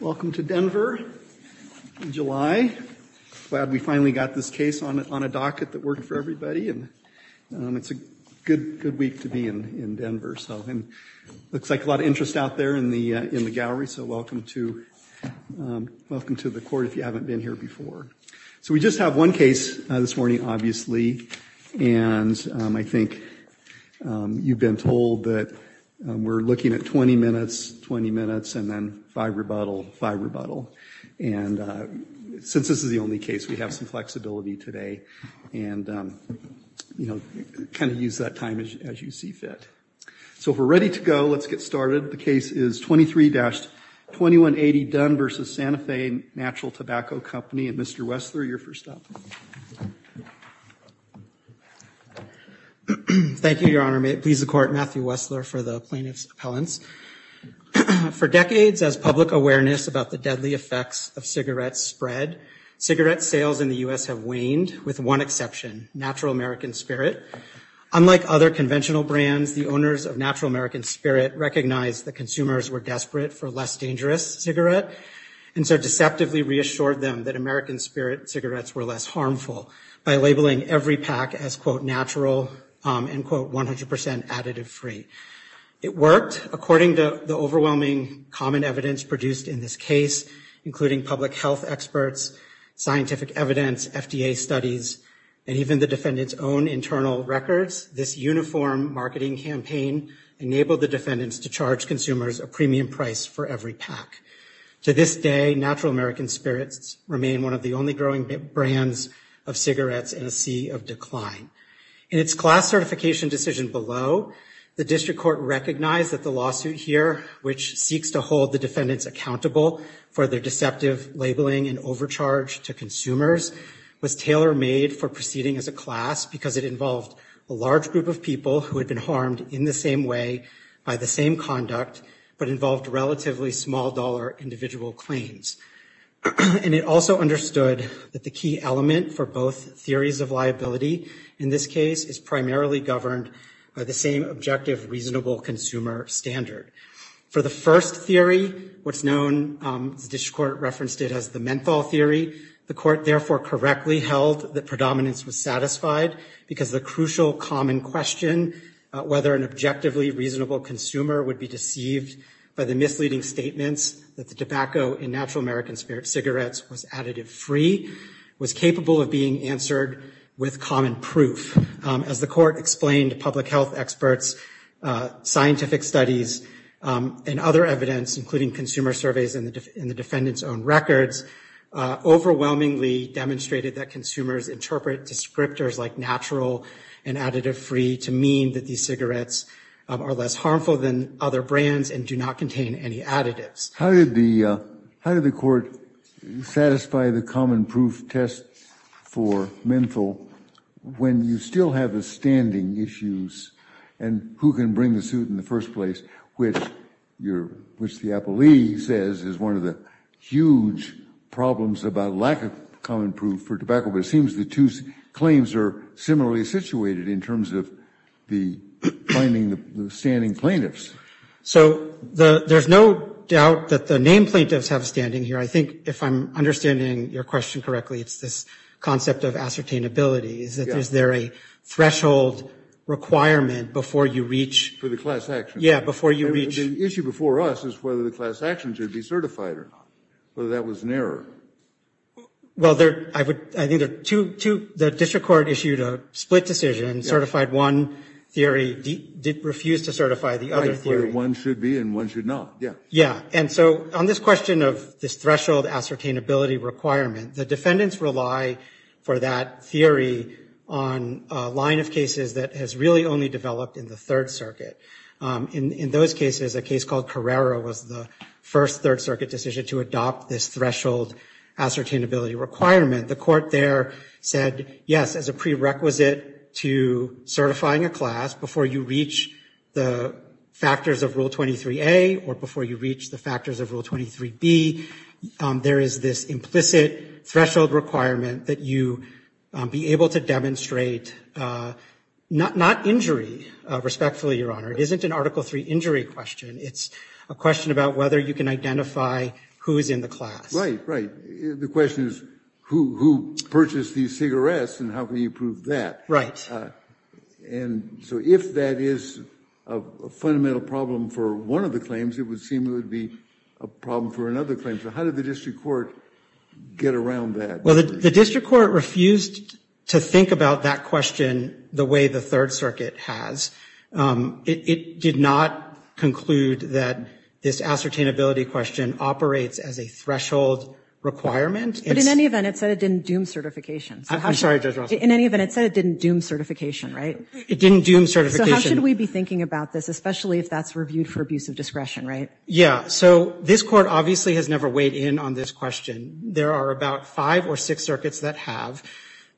Welcome to Denver in July. Glad we finally got this case on a docket that worked for everybody. It's a good week to be in Denver. Looks like a lot of interest out there in the gallery, so welcome to the court if you haven't been here before. So we just have one case this morning, obviously, and I think you've been told that we're looking at 20 minutes, 20 minutes, and then five rebuttal, five rebuttal. And since this is the only case, we have some flexibility today and, you know, kind of use that time as you see fit. So if we're ready to go, let's get started. The case is 23-2180 Dunn v. Santa Fe Natural Tobacco Company. Mr. Wessler, you're first up. Thank you, Your Honor. Please record Matthew Wessler for the plaintiff's appellants. For decades, as public awareness about the deadly effects of cigarette spread, cigarette sales in the U.S. have waned, with one exception, Natural American Spirit. Unlike other conventional brands, the owners of Natural American Spirit recognized that consumers were desperate for less dangerous cigarettes and so deceptively reassured them that American Spirit cigarettes were less harmful by labeling every pack as, quote, natural and, quote, 100% additive free. It worked. According to the overwhelming common evidence produced in this case, including public health experts, scientific evidence, FDA studies, and even the defendant's own internal records, this uniform marketing campaign enabled the defendants to charge consumers a premium price for every pack. To this day, Natural American Spirits remain one of the only growing brands of cigarettes in a sea of decline. In its class certification decision below, the district court recognized that the lawsuit here, which seeks to hold the defendants accountable for their deceptive labeling and overcharge to consumers, was tailor-made for proceeding as a class because it involved a large group of people who had been harmed in the same way by the same conduct, but involved relatively small-dollar individual claims. And it also understood that the key element for both theories of liability in this case is primarily governed by the same objective reasonable consumer standard. For the first theory, what's known, the district court referenced it as the menthol theory. The court, therefore, correctly held that predominance was satisfied because the crucial common question, whether an objectively reasonable consumer would be deceived by the misleading statements that the tobacco in Natural American Spirit cigarettes was additive free, was capable of being answered with common proof. As the court explained, public health experts, scientific studies, and other evidence, including consumer surveys and the defendant's own records, overwhelmingly demonstrated that consumers interpret descriptors like natural and additive free to mean that these cigarettes are less harmful than other brands and do not contain any additives. How did the court satisfy the common proof test for menthol when you still have the standing issues and who can bring the suit in the first place, which the appellee says is one of the huge problems about lack of common proof for tobacco. It seems the two claims are similarly situated in terms of the finding of standing plaintiffs. So there's no doubt that the name plaintiffs have standing here. I think if I'm understanding your question correctly, it's this concept of ascertainability. Is there a threshold requirement before you reach? For the class action. Yeah, before you reach. The issue before us is whether the class action should be certified or not, whether that was an error. Well, I think the district court issued a split decision, certified one theory, refused to certify the other theory. One should be and one should not. Yeah. And so on this question of this threshold ascertainability requirement, the defendants rely for that theory on a line of cases that has really only developed in the Third Circuit. In those cases, a case called Carrera was the first Third Circuit decision to adopt this threshold ascertainability requirement. The court there said, yes, as a prerequisite to certifying a class before you reach the factors of Rule 23A or before you reach the factors of Rule 23B, there is this implicit threshold requirement that you be able to demonstrate not injury, respectfully, Your Honor. It isn't an Article III injury question. It's a question about whether you can identify who is in the class. Right, right. The question is who purchased these cigarettes and how can you prove that? Right. And so if that is a fundamental problem for one of the claims, it would seem it would be a problem for another claim. So how did the district court get around that? Well, the district court refused to think about that question the way the Third Circuit has. It did not conclude that this ascertainability question operates as a threshold requirement. But in any event, it said it didn't doom certification. I'm sorry, Judge Russell. In any event, it said it didn't doom certification, right? It didn't doom certification. So how should we be thinking about this, especially if that's reviewed for abuse of discretion, right? Yeah. So this court obviously has never weighed in on this question. There are about five or six circuits that have.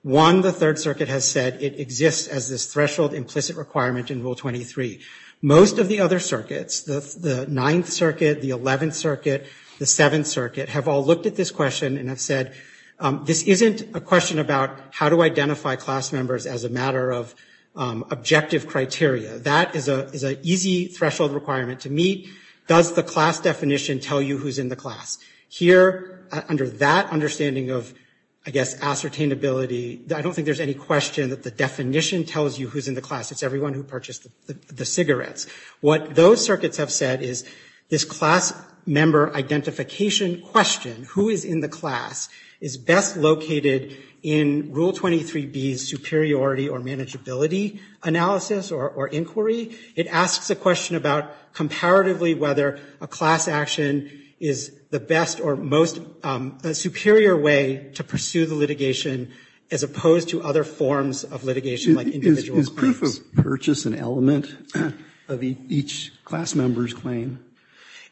One, the Third Circuit has said it exists as this threshold implicit requirement in Rule 23. Most of the other circuits, the Ninth Circuit, the Eleventh Circuit, the Seventh Circuit, have all looked at this question and have said, this isn't a question about how to identify class members as a matter of objective criteria. That is an easy threshold requirement to meet. Does the class definition tell you who's in the class? Here, under that understanding of, I guess, ascertainability, I don't think there's any question that the definition tells you who's in the class. It's everyone who purchased the cigarettes. What those circuits have said is this class member identification question, who is in the class, is best located in Rule 23B's superiority or manageability analysis or inquiry. It asks the question about comparatively whether a class action is the best or most superior way to pursue the litigation as opposed to other forms of litigation like individual claims. Is proof of purchase an element of each class member's claim?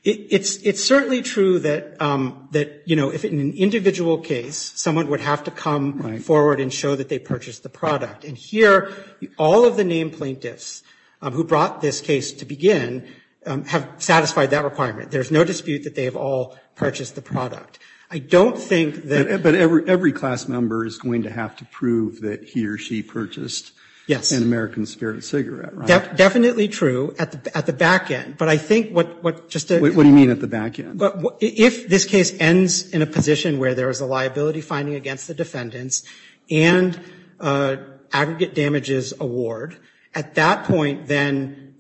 It's certainly true that, you know, if in an individual case, someone would have to come forward and show that they purchased the product. And here, all of the named plaintiffs who brought this case to begin have satisfied that requirement. There's no dispute that they've all purchased the product. I don't think that... But every class member is going to have to prove that he or she purchased an American Scarab cigarette, right? Definitely true at the back end. But I think what... What do you mean at the back end? But if this case ends in a position where there is a liability finding against the defendants and aggregate damages award, at that point, then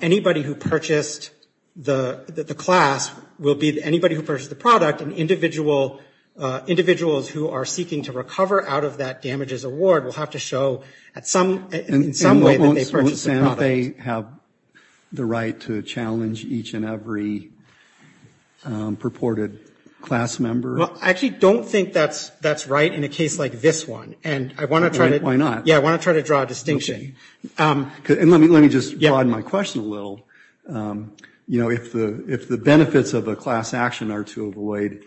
anybody who purchased the class will be anybody who purchased the product, and individuals who are seeking to recover out of that damages award will have to show in some way that they purchased the product. Do they have the right to challenge each and every purported class member? Well, I actually don't think that's right in a case like this one. Why not? Yeah, I want to try to draw a distinction. Let me just broaden my question a little. You know, if the benefits of a class action are to avoid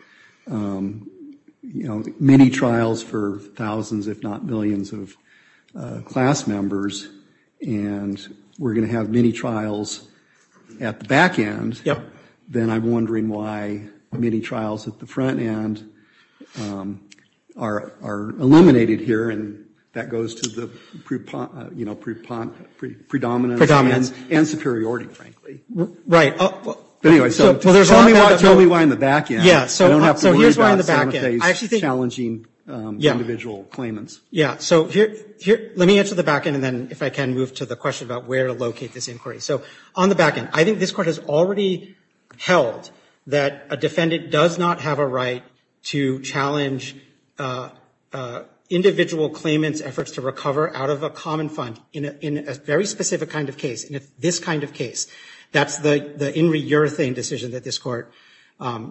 many trials for thousands, if not millions, of class members, and we're going to have many trials at the back end, then I'm wondering why many trials at the front end are eliminated here, and that goes to the predominant and superiority, frankly. Anyway, so tell me why in the back end. I don't have to worry about, say, challenging individual claimants. Yeah, so let me answer the back end, and then, if I can, move to the question about where to locate this inquiry. So on the back end, I think this Court has already held that a defendant does not have a right to challenge individual claimants' efforts to recover out of a common fund in a very specific kind of case, in this kind of case. That's the In Re Urethane decision that this Court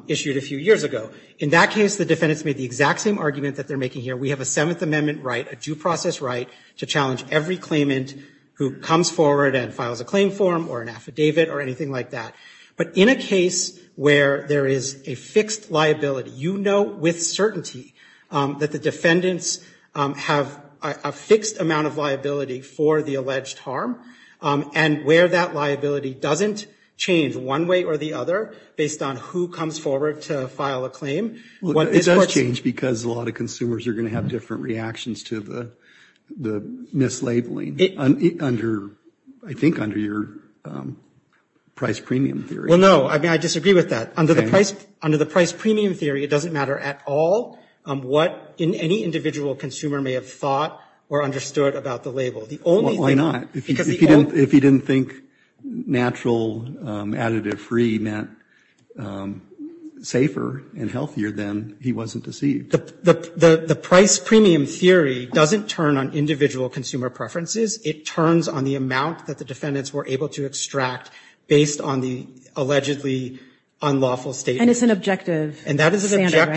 issued a few years ago. In that case, the defendants made the exact same argument that they're making here. We have a Seventh Amendment right, a due process right, to challenge every claimant who comes forward and files a claim form or an affidavit or anything like that, but in a case where there is a fixed liability, you know with certainty that the defendants have a fixed amount of liability for the alleged harm, and where that liability doesn't change one way or the other based on who comes forward to file a claim. It does change because a lot of consumers are going to have different reactions to the mislabeling, I think under your price premium theory. Well, no, I disagree with that. Under the price premium theory, it doesn't matter at all what any individual consumer may have thought or understood about the label. Why not? If he didn't think natural additive free meant safer and healthier, then he wasn't deceived. The price premium theory doesn't turn on individual consumer preferences. It turns on the amount that the defendants were able to extract based on the allegedly unlawful statement. And it's an objective standard, right?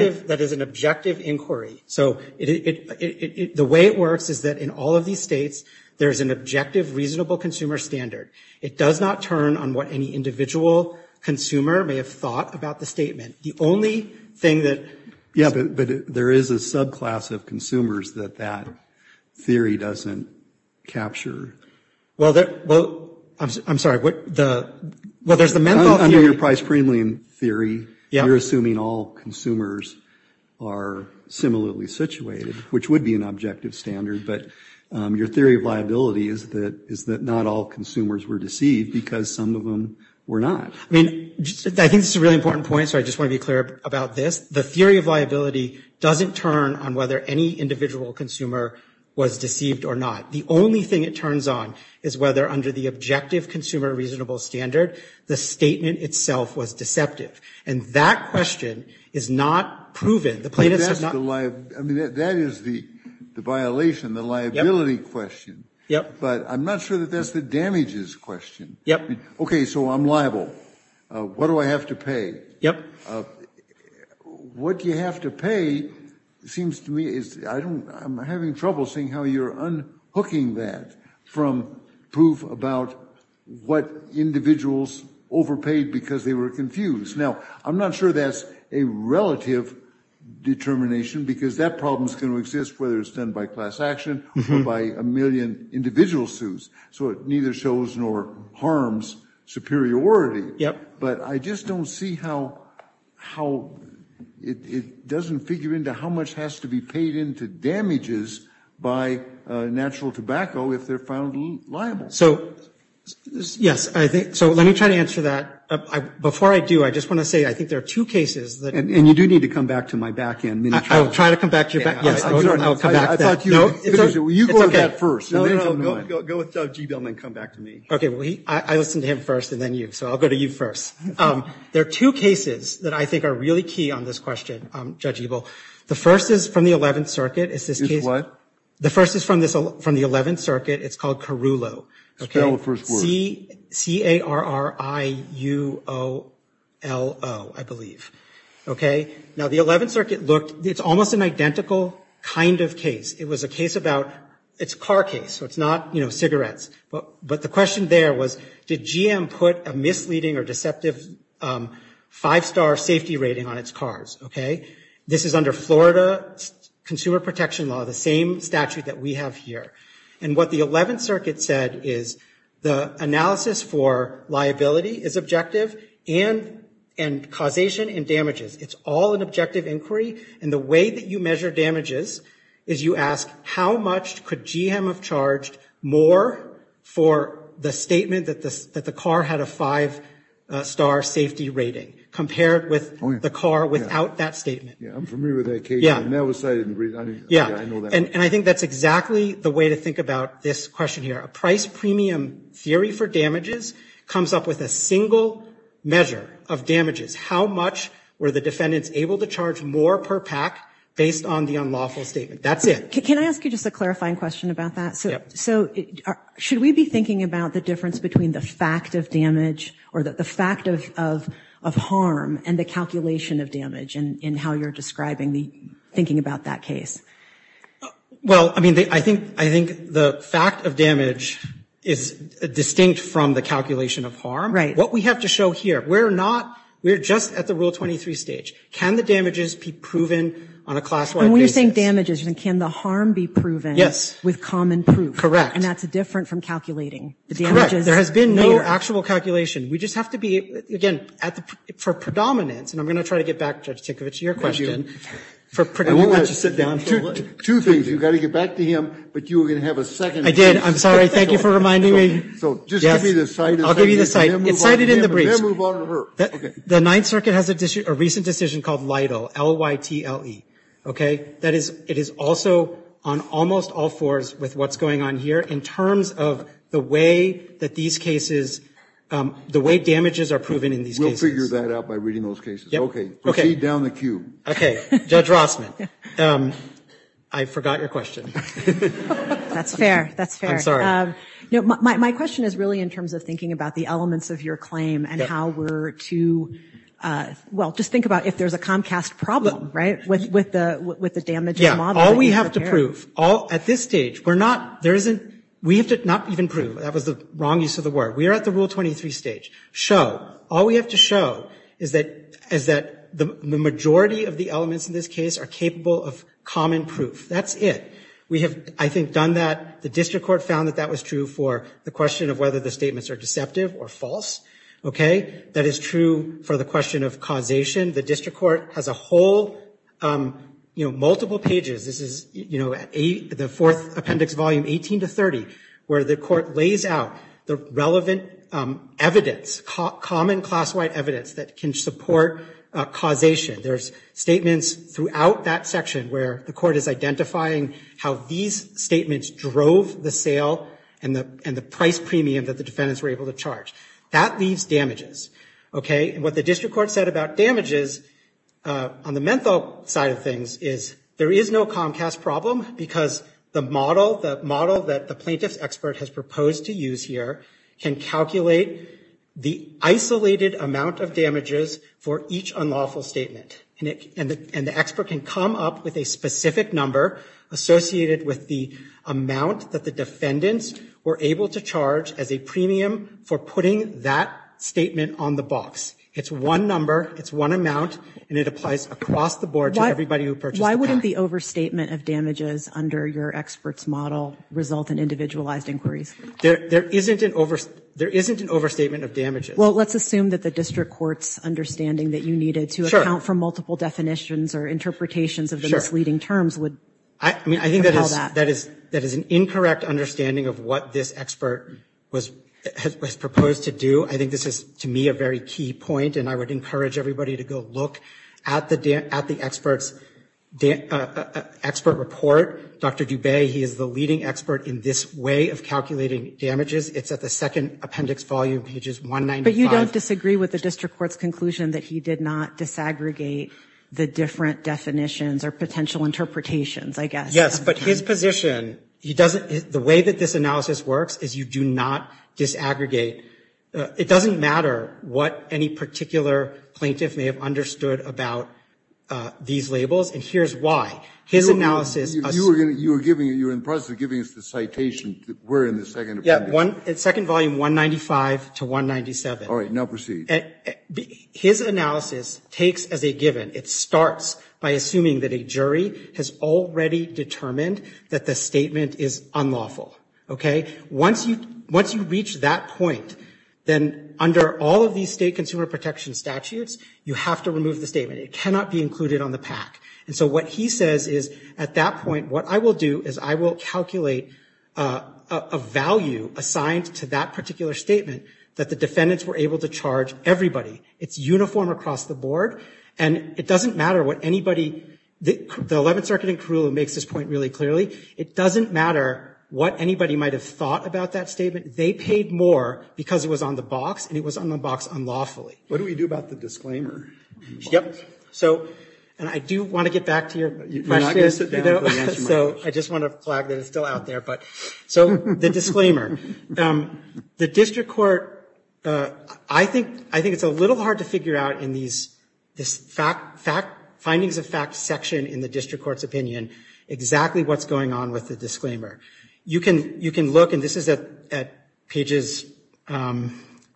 And that is an objective inquiry. The way it works is that in all of these states, there's an objective reasonable consumer standard. It does not turn on what any individual consumer may have thought about the statement. The only thing that... Yeah, but there is a subclass of consumers that that theory doesn't capture. Well, I'm sorry. Well, there's the mental... Which would be an objective standard, but your theory of liability is that not all consumers were deceived because some of them were not. I mean, I think it's a really important point, so I just want to be clear about this. The theory of liability doesn't turn on whether any individual consumer was deceived or not. The only thing it turns on is whether under the objective consumer reasonable standard, the statement itself was deceptive. And that question is not proven. I mean, that is the violation, the liability question. But I'm not sure that that's the damages question. Okay, so I'm liable. What do I have to pay? What you have to pay seems to me... I'm having trouble seeing how you're unhooking that from proof about what individuals overpaid because they were confused. Now, I'm not sure that's a relative determination because that problem is going to exist, whether it's done by class action or by a million individual suits. So it neither shows nor harms superiority. But I just don't see how it doesn't figure into how much has to be paid into damages by natural tobacco if they're found liable. So, yes, I think... So let me try to answer that. Before I do, I just want to say I think there are two cases... And you do need to come back to my back end. I will try to come back to your back end. I thought you... You go to that first. No, no, no, no. Go with G. Bellman and come back to me. Okay, I listened to him first and then you. So I'll go to you first. There are two cases that I think are really key on this question, Judge Liebel. The first is from the 11th Circuit. Is what? The first is from the 11th Circuit. It's called Carrullo. C-A-R-R-I-U-O-L-O, I believe. Okay? Now, the 11th Circuit looked... It's almost an identical kind of case. It was a case about... It's a car case, so it's not, you know, cigarettes. But the question there was, did GM put a misleading or deceptive five-star safety rating on its cars? Okay? This is under Florida Consumer Protection Law, the same statute that we have here. And what the 11th Circuit said is the analysis for liability is objective and causation and damages. It's all an objective inquiry. And the way that you measure damages is you ask, how much could GM have charged more for the statement that the car had a five-star safety rating, compared with the car without that statement? Yeah, I'm familiar with that case. Yeah. And that was... Yeah. Yeah, I know that. And I think that's exactly the way to think about this question here. A price premium theory for damages comes up with a single measure of damages. How much were the defendants able to charge more per pack, based on the unlawful statement? That's it. Can I ask you just a clarifying question about that? Yeah. So should we be thinking about the difference between the fact of damage or the fact of harm and the calculation of damage in how you're describing the...thinking about that case? Well, I mean, I think the fact of damage is distinct from the calculation of harm. Right. What we have to show here, we're not...we're just at the Rule 23 stage. Can the damages be proven on a class-wide basis? And when you think damages, can the harm be proven... Yes. ...with common proof? Correct. And that's different from calculating the damages? Correct. There has been no actual calculation. We just have to be, again, for predominance... And I'm going to try to get back, Judge Tinkovich, to your question. ...for predominance. And we want to sit down. Two things. You've got to get back to him, but you were going to have a second. I did. I'm sorry. Thank you for reminding me. So just give me the side... I'll give you the side. ...and then move on to him, and then move on to her. The Ninth Circuit has a recent decision called LIDL, L-Y-T-L-E. Okay? That is, it is also on almost all fours with what's going on here in terms of the way that these cases, the way damages are proven in these cases. We'll figure that out by reading those cases. Okay. Proceed down the queue. Okay. Judge Rossman. I forgot your question. That's fair. That's fair. No, my question is really in terms of thinking about the elements of your claim and how we're to... Well, just think about if there's a Comcast problem, right, with the damaging model. Yeah. All we have to prove, all... At this stage, we're not... There isn't... We have to... Not even prove. That was the wrong use of the word. We are at the Rule 23 stage. Show. All we have to show is that the majority of the elements in this case are capable of common proof. That's it. We have, I think, done that. The District Court found that that was true for the question of whether the statements are deceptive or false. Okay? That is true for the question of causation. The District Court has a whole, you know, multiple pages. This is, you know, the fourth appendix, volume 18 to 30, where the court lays out the relevant evidence, common class-wide evidence that can support causation. There's statements throughout that section where the court is identifying how these statements drove the sale and the price premium that the defendants were able to charge. That leaves damages. Okay? And what the District Court said about damages on the mental side of things is there is no comcast problem, because the model that the plaintiff's expert has proposed to use here can calculate the isolated amount of damages for each unlawful statement. And the expert can come up with a specific number associated with the amount that the defendants were able to charge as a premium for putting that statement on the box. It's one number. It's one amount. And it applies across the board to everybody who approaches that. Why wouldn't the overstatement of damages under your expert's model result in individualized inquiries? There isn't an overstatement of damages. Well, let's assume that the District Court's understanding that you needed to account for multiple definitions or interpretations of the misleading terms would… I think that is an incorrect understanding of what this expert has proposed to do. I think this is, to me, a very key point, and I would encourage everybody to go look at the expert's expert report. Dr. Dubé, he is the leading expert in this way of calculating damages. It's at the second appendix volume, pages 195. But you don't disagree with the District Court's conclusion that he did not disaggregate the different definitions or potential interpretations, I guess. Yes, but his position, the way that this analysis works is you do not disaggregate. It doesn't matter what any particular plaintiff may have understood about these labels. And here's why. His analysis… You were in the process of giving us the citation. We're in the second appendix. Yeah, second volume, 195 to 197. All right, now proceed. His analysis takes as a given. It starts by assuming that a jury has already determined that the statement is unlawful. Okay? Once you reach that point, then under all of these state consumer protection statutes, you have to remove the statement. It cannot be included on the PAC. And so what he says is, at that point, what I will do is I will calculate a value assigned to that particular statement that the defendants were able to charge everybody. It's uniform across the board, and it doesn't matter what anybody… The 11th Circuit in Crewe makes this point really clearly. It doesn't matter what anybody might have thought about that statement. They paid more because it was on the box, and it was on the box unlawfully. What do we do about the disclaimer? Yep. So… And I do want to get back to your practice, you know, so I just want to flag that it's still out there, but… So, the disclaimer. The district court… I think it's a little hard to figure out in these findings of fact section in the district court's opinion exactly what's going on with the disclaimer. You can look, and this is at pages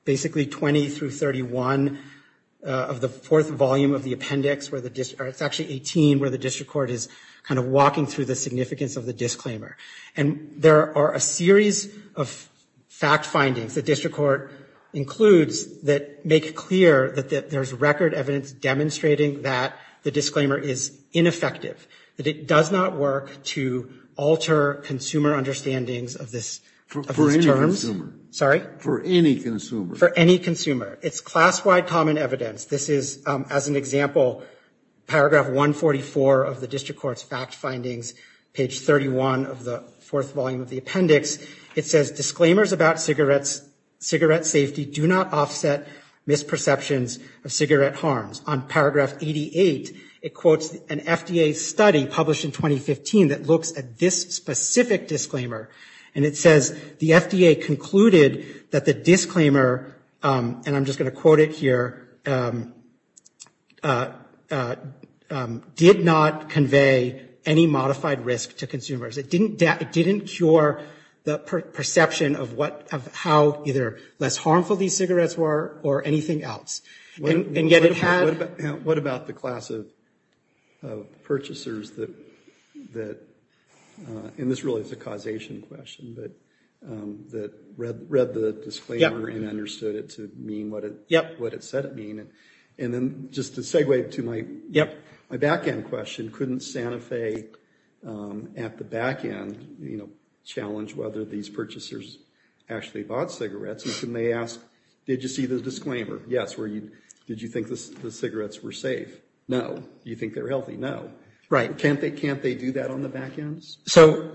basically 20 through 31 of the fourth volume of the appendix, or it's actually 18, where the district court is kind of walking through the significance of the disclaimer. And there are a series of fact findings the district court includes that make it clear that there's record evidence demonstrating that the disclaimer is ineffective, that it does not work to alter consumer understandings of this… For any consumer. Sorry? For any consumer. For any consumer. It's class-wide common evidence. This is, as an example, paragraph 144 of the district court's fact findings, page 31 of the fourth volume of the appendix. It says, disclaimers about cigarette safety do not offset misperceptions of cigarette harms. On paragraph 88, it quotes an FDA study published in 2015 that looks at this specific disclaimer, and it says the FDA concluded that the disclaimer, and I'm just going to quote it here, did not convey any modified risk to consumers. It didn't cure the perception of how either less harmful these cigarettes were or anything else. And yet it has… What about the class of purchasers that… And this really is a causation question, that read the disclaimer and understood it to mean what it said it mean. And then just to segue to my back-end question, couldn't Santa Fe, at the back-end, challenge whether these purchasers actually bought cigarettes? And they ask, did you see the disclaimer? Yes. Did you think the cigarettes were safe? No. Do you think they're healthy? No. Right. Can't they do that on the back-ends? So,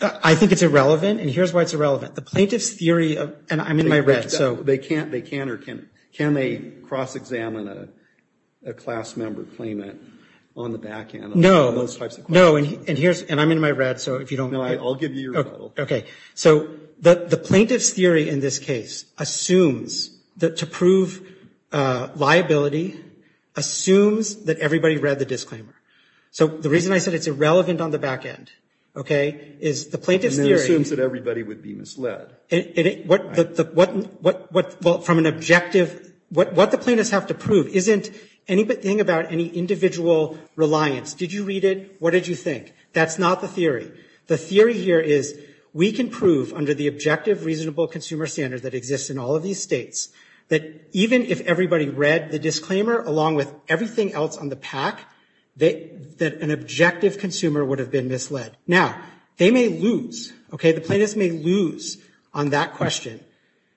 I think it's irrelevant, and here's why it's irrelevant. The plaintiff's theory of… And I'm in my red, so… They can or can't. Can they cross-examine a class-member claimant on the back-end? No. And I'm in my red, so if you don't… No, I'll give you your… Okay. Okay. So, the plaintiff's theory, in this case, assumes that to prove liability, assumes that everybody read the disclaimer. So, the reason I said it's irrelevant on the back-end, okay, is the plaintiff's theory… And then assumes that everybody would be misled. What the plaintiffs have to prove isn't anything about any individual reliance. Did you read it? What did you think? That's not the theory. The theory here is we can prove, under the objective reasonable consumer standards that exist in all of these states, that even if everybody read the disclaimer, along with everything else on the pack, that an objective consumer would have been misled. Now, they may lose. Okay? The plaintiffs may lose on that question.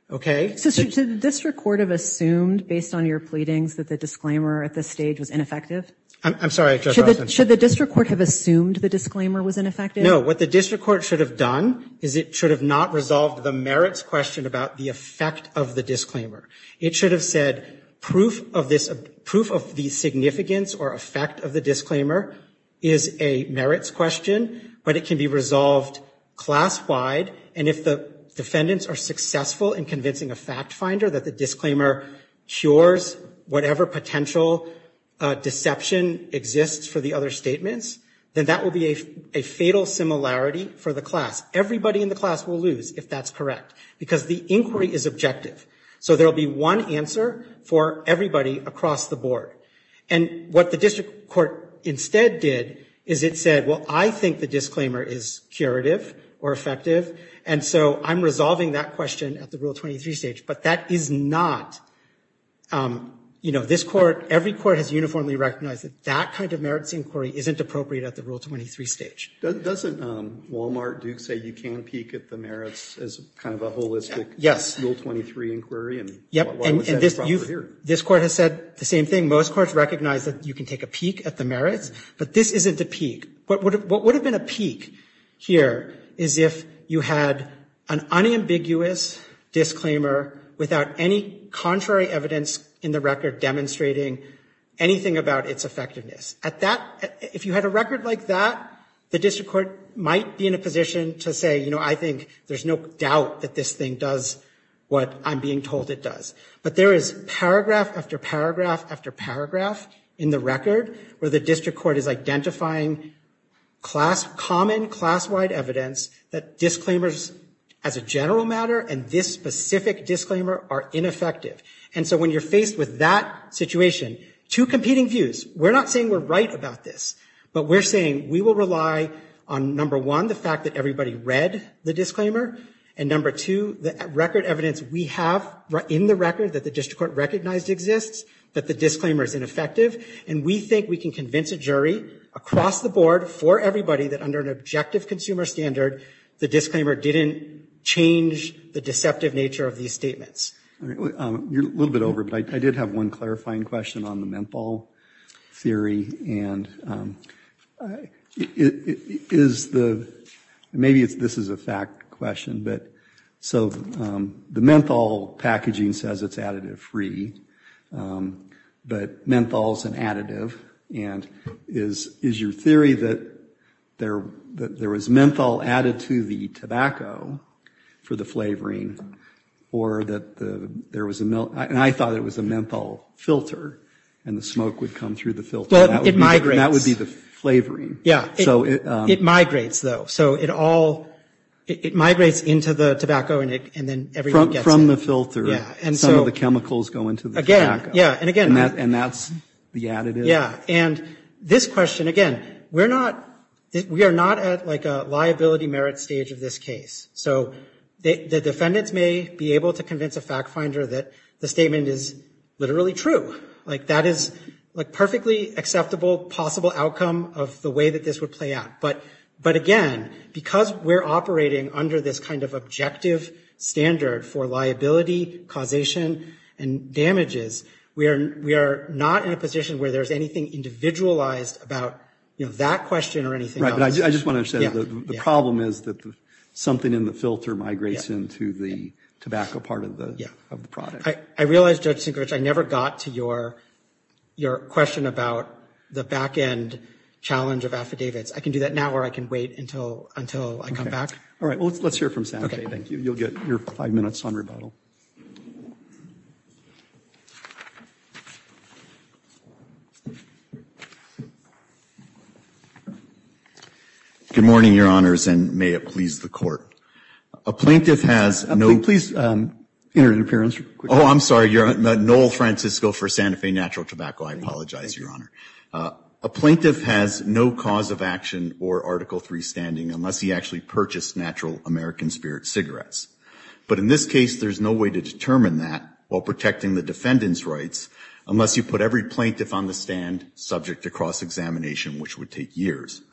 Okay? So, should the district court have assumed, based on your pleadings, that the disclaimer at this stage was ineffective? I'm sorry. Should the district court have assumed the disclaimer was ineffective? No. What the district court should have done is it should have not resolved the merits question about the effect of the disclaimer. It should have said, proof of the significance or effect of the disclaimer is a merits question, but it can be resolved class-wide, and if the defendants are successful in convincing a fact-finder that the disclaimer cures whatever potential deception exists for the other statements, then that will be a fatal similarity for the class. Everybody in the class will lose if that's correct, because the inquiry is objective. So, there will be one answer for everybody across the board, and what the district court instead did is it said, well, I think the disclaimer is curative or effective, and so I'm resolving that question at the Rule 23 stage, but that is not, you know, this court, every court has uniformly recognized that that kind of merits inquiry isn't appropriate at the Rule 23 stage. Doesn't Wal-Mart do say you can peek at the merits as kind of a holistic Rule 23 inquiry? Yes. And this court has said the same thing. Most courts recognize that you can take a peek at the merits, but this isn't the peek. What would have been a peek here is if you had an unambiguous disclaimer without any contrary evidence in the record demonstrating anything about its effectiveness. At that, if you had a record like that, the district court might be in a position to say, you know, I think there's no doubt that this thing does what I'm being told it does. But there is paragraph after paragraph after paragraph in the record where the district court is identifying class, common class-wide evidence that disclaimers as a general matter and this specific disclaimer are ineffective. And so when you're faced with that situation, two competing views, we're not saying we're right about this, but we're saying we will rely on, number one, the fact that everybody read the disclaimer, and number two, the record evidence we have in the record that the district court recognized exists, that the disclaimer is ineffective, and we think we can convince a jury across the board for everybody that under an objective consumer standard, the deceptive nature of these statements. You're a little bit over, but I did have one clarifying question on the menthol theory, and is the, maybe this is a fact question, but so the menthol packaging says it's additive free, but menthol's an additive, and is your theory that there was menthol added to the packaging, or that there was a, and I thought it was a menthol filter, and the smoke would come through the filter. That would be the flavoring. Yeah, it migrates, though. So it all, it migrates into the tobacco, and then everyone gets it. From the filter. Yeah, and so. Some of the chemicals go into the tobacco. Again, yeah, and again. And that's the additive. Yeah, and this question, again, we're not, we are not at like a liability merit stage of this case. So the defendants may be able to convince a fact finder that the statement is literally true. Like that is like perfectly acceptable, possible outcome of the way that this would play out. But again, because we're operating under this kind of objective standard for liability, causation, and damages, we are not in a position where there's anything individualized about that question or anything else. I just want to say that the problem is that something in the filter migrates into the tobacco part of the product. I realize, Judge Sinkrich, I never got to your question about the back end challenge of affidavits. I can do that now, or I can wait until I come back. All right, well, let's hear from Sam. You'll get your five minutes on rebuttal. Good morning, your honors, and may it please the court. A plaintiff has no... Please, enter your appearance. Oh, I'm sorry. Noel Francisco for Santa Fe Natural Tobacco. I apologize, your honor. A plaintiff has no cause of action or Article III standing unless he actually purchased natural American spirit cigarettes. But in this case, there's no way to determine that while protecting the defendant's rights unless you put every plaintiff on the stand subject to cross-examination, which would take years.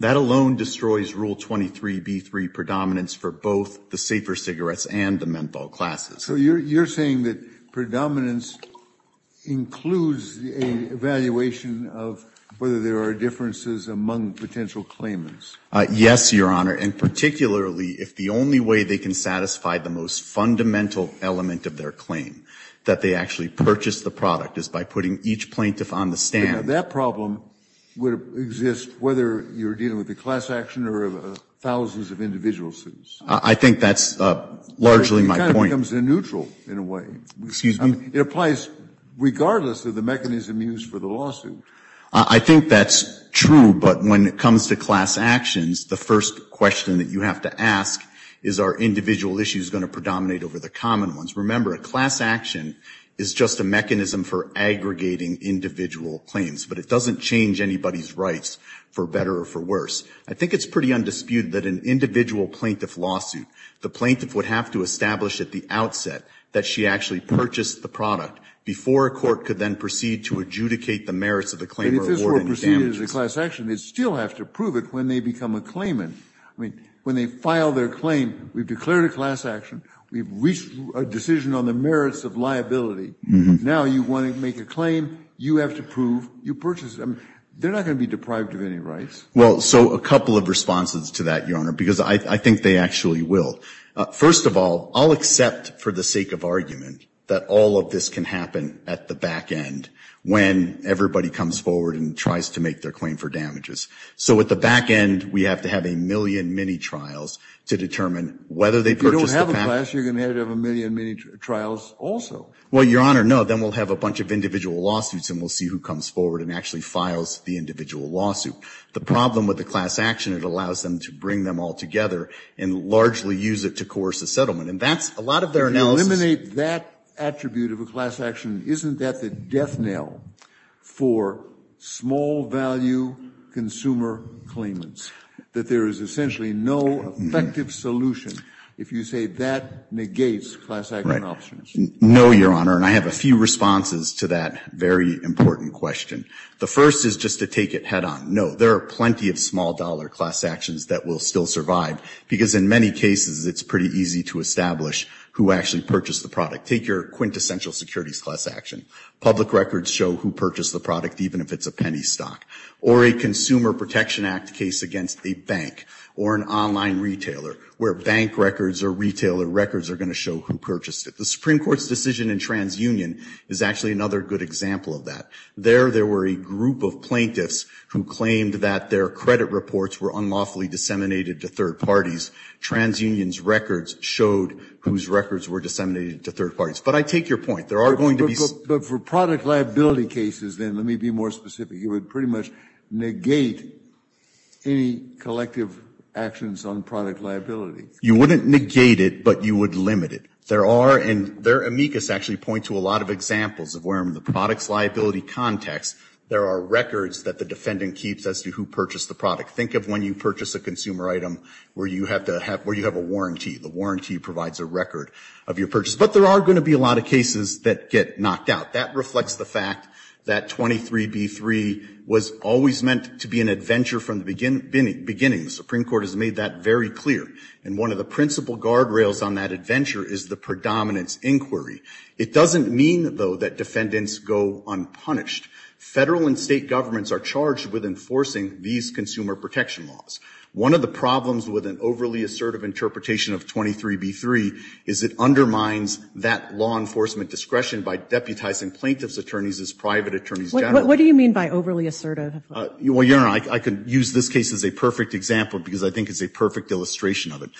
That alone destroys Rule 23b3 predominance for both the safer cigarettes and the menthol classes. So you're saying that predominance includes an evaluation of whether there are differences among potential claimants? Yes, your honor, and particularly if the only way they can satisfy the most fundamental element of their claim, that they actually purchased the product, is by putting each plaintiff on the stand. Now, that problem would exist whether you're dealing with a class action or thousands of individual students. I think that's largely my point. It kind of comes in neutral, in a way. Excuse me? It applies regardless of the mechanism used for the lawsuit. I think that's true, but when it comes to class actions, the first question that you have to ask is, are individual issues going to predominate over the common ones? Remember, a class action is just a mechanism for aggregating individual claims. But it doesn't change anybody's rights, for better or for worse. I think it's pretty undisputed that an individual plaintiff lawsuit, the plaintiff would have to establish at the outset that she actually purchased the product, before a court could then proceed to adjudicate the merits of the claim or award any damage. If this were to proceed as a class action, they'd still have to prove it when they become a claimant. When they file their claim, we've declared a class action. We've reached a decision on the merits of liability. Now you want to make a claim, you have to prove you purchased them. They're not going to be deprived of any rights. Well, so a couple of responses to that, Your Honor, because I think they actually will. First of all, I'll accept for the sake of argument that all of this can happen at the back end, when everybody comes forward and tries to make their claim for damages. So at the back end, we have to have a million mini-trials to determine whether they purchased If you don't have a class, you're going to have to have a million mini-trials also. Well, Your Honor, no. Then we'll have a bunch of individual lawsuits and we'll see who comes forward and actually files the individual lawsuit. The problem with the class action, it allows them to bring them all together and largely use it to coerce the settlement. And that's a lot of their... But to eliminate that attribute of a class action, isn't that the death knell for small value consumer claimants, that there is essentially no effective solution if you say that negates class action options? No, Your Honor, and I have a few responses to that very important question. The first is just to take it head on. No, there are plenty of small dollar class actions that will still survive, because in many cases, it's pretty easy to establish who actually purchased the product. Take your quintessential securities class action. Public records show who purchased the product, even if it's a penny stock. Or a Consumer Protection Act case against a bank or an online retailer, where bank records or retailer records are going to show who purchased it. The Supreme Court's decision in TransUnion is actually another good example of that. There, there were a group of plaintiffs who claimed that their credit reports were unlawfully disseminated to third parties. TransUnion's records showed whose records were disseminated to third parties. But I take your point. There are going to be... But for product liability cases, then, let me be more specific. You would pretty much negate any collective actions on product liability. You wouldn't negate it, but you would limit it. There are, and their amicus actually points to a lot of examples of where in the product liability context, there are records that the defendant keeps as to who purchased the product. Think of when you purchase a consumer item where you have to have, where you have a warranty. The warranty provides a record of your purchase. But there are going to be a lot of cases that get knocked out. That reflects the fact that 23b3 was always meant to be an adventure from the beginning. The Supreme Court has made that very clear. And one of the principal guardrails on that adventure is the predominance inquiry. It doesn't mean, though, that defendants go unpunished. Federal and state governments are charged with enforcing these consumer protection laws. One of the problems with an overly assertive interpretation of 23b3 is it undermines that law enforcement discretion by deputizing plaintiff's attorneys as private attorneys general. What do you mean by overly assertive? Well, you know, I could use this case as a perfect example because I think it's a perfect illustration of it.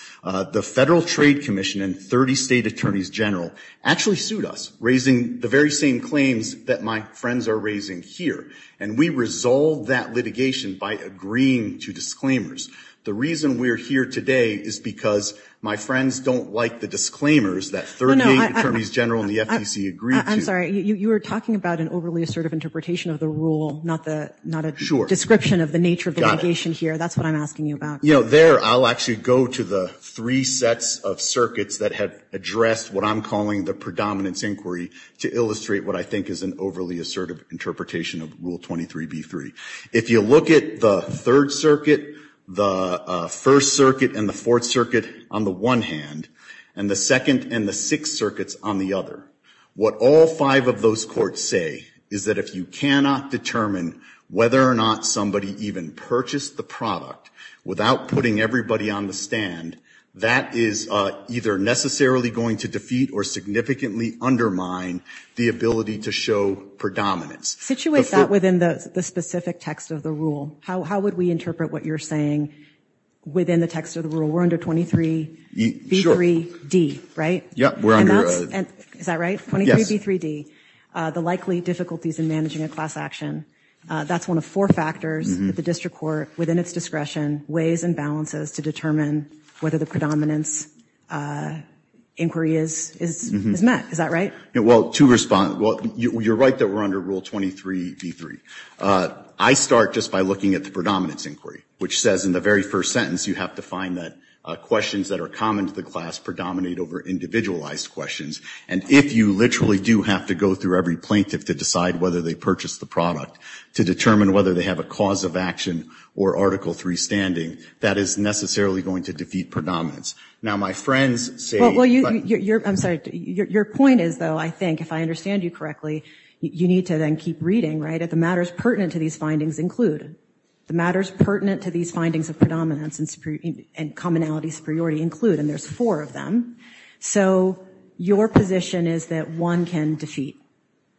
The Federal Trade Commission and 30 state attorneys general actually sued us, raising the very same claims that my friends are raising here. And we resolved that litigation by agreeing to disclaimers. The reason we're here today is because my friends don't like the disclaimers that 30 state attorneys general and the FTC agreed to. I'm sorry. You were talking about an overly assertive interpretation of the rule, not a description of the nature of litigation here. That's what I'm asking you about. You know, there I'll actually go to the three sets of circuits that have addressed what I'm calling the predominance inquiry to illustrate what I think is an overly assertive interpretation of Rule 23b3. If you look at the third circuit, the first circuit, and the fourth circuit on the one hand, and the second and the sixth circuits on the other, what all five of those courts say is that if you cannot determine whether or not somebody even purchased the product without putting everybody on the stand, that is either necessarily going to defeat or significantly undermine the ability to show predominance. Situate that within the specific text of the rule. How would we interpret what you're saying within the text of the rule? We're under 23b3d, right? Yeah, we're under... Is that right? Yes. 23b3d, the likely difficulties in managing a class action. That's one of four factors that the district court, within its discretion, weighs and balances to determine whether the predominance inquiry is met. Is that right? Well, to respond, you're right that we're under Rule 23d3. I start just by looking at the predominance inquiry, which says in the very first sentence you have to find that questions that are common to the class predominate over individualized questions, and if you literally do have to go through every plaintiff to decide whether they purchased the product, to determine whether they have a cause of action or Article 3 standing, that is necessarily going to defeat predominance. Now, my friends say... Well, I'm sorry. Your point is, though, I think, if I understand you correctly, you need to then keep reading, right? If the matters pertinent to these findings include, the matters pertinent to these findings of predominance and commonality superiority include, and there's four of them, so your position is that one can defeat,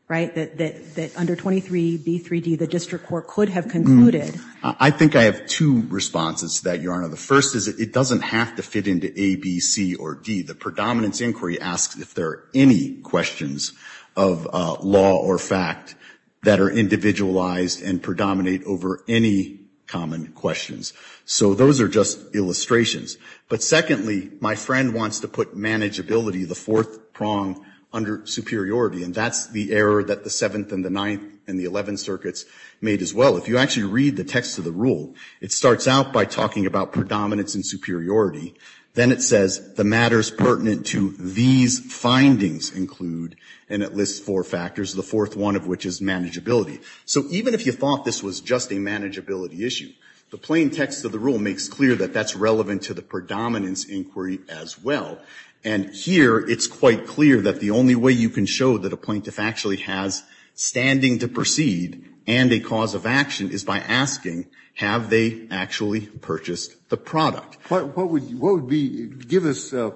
right? That under 23b3d, the district court could have concluded. I think I have two responses to that, Your Honor. The first is it doesn't have to fit into a, b, c, or d. The predominance inquiry asks if there are any questions of law or fact that are individualized and predominate over any common questions. So those are just illustrations. But secondly, my friend wants to put manageability, the fourth prong, under superiority, and that's the error that the 7th and the 9th and the 11th circuits made as well. If you actually read the text of the rule, it starts out by talking about predominance and superiority. Then it says, the matters pertinent to these findings include, and it lists four factors, the fourth one of which is manageability. So even if you thought this was just a manageability issue, the plain text of the rule makes clear that that's relevant to the predominance inquiry as well. And here, it's quite clear that the only way you can show that a plaintiff actually has standing to proceed and a cause of action is by asking, have they actually purchased the product? What would be, give us a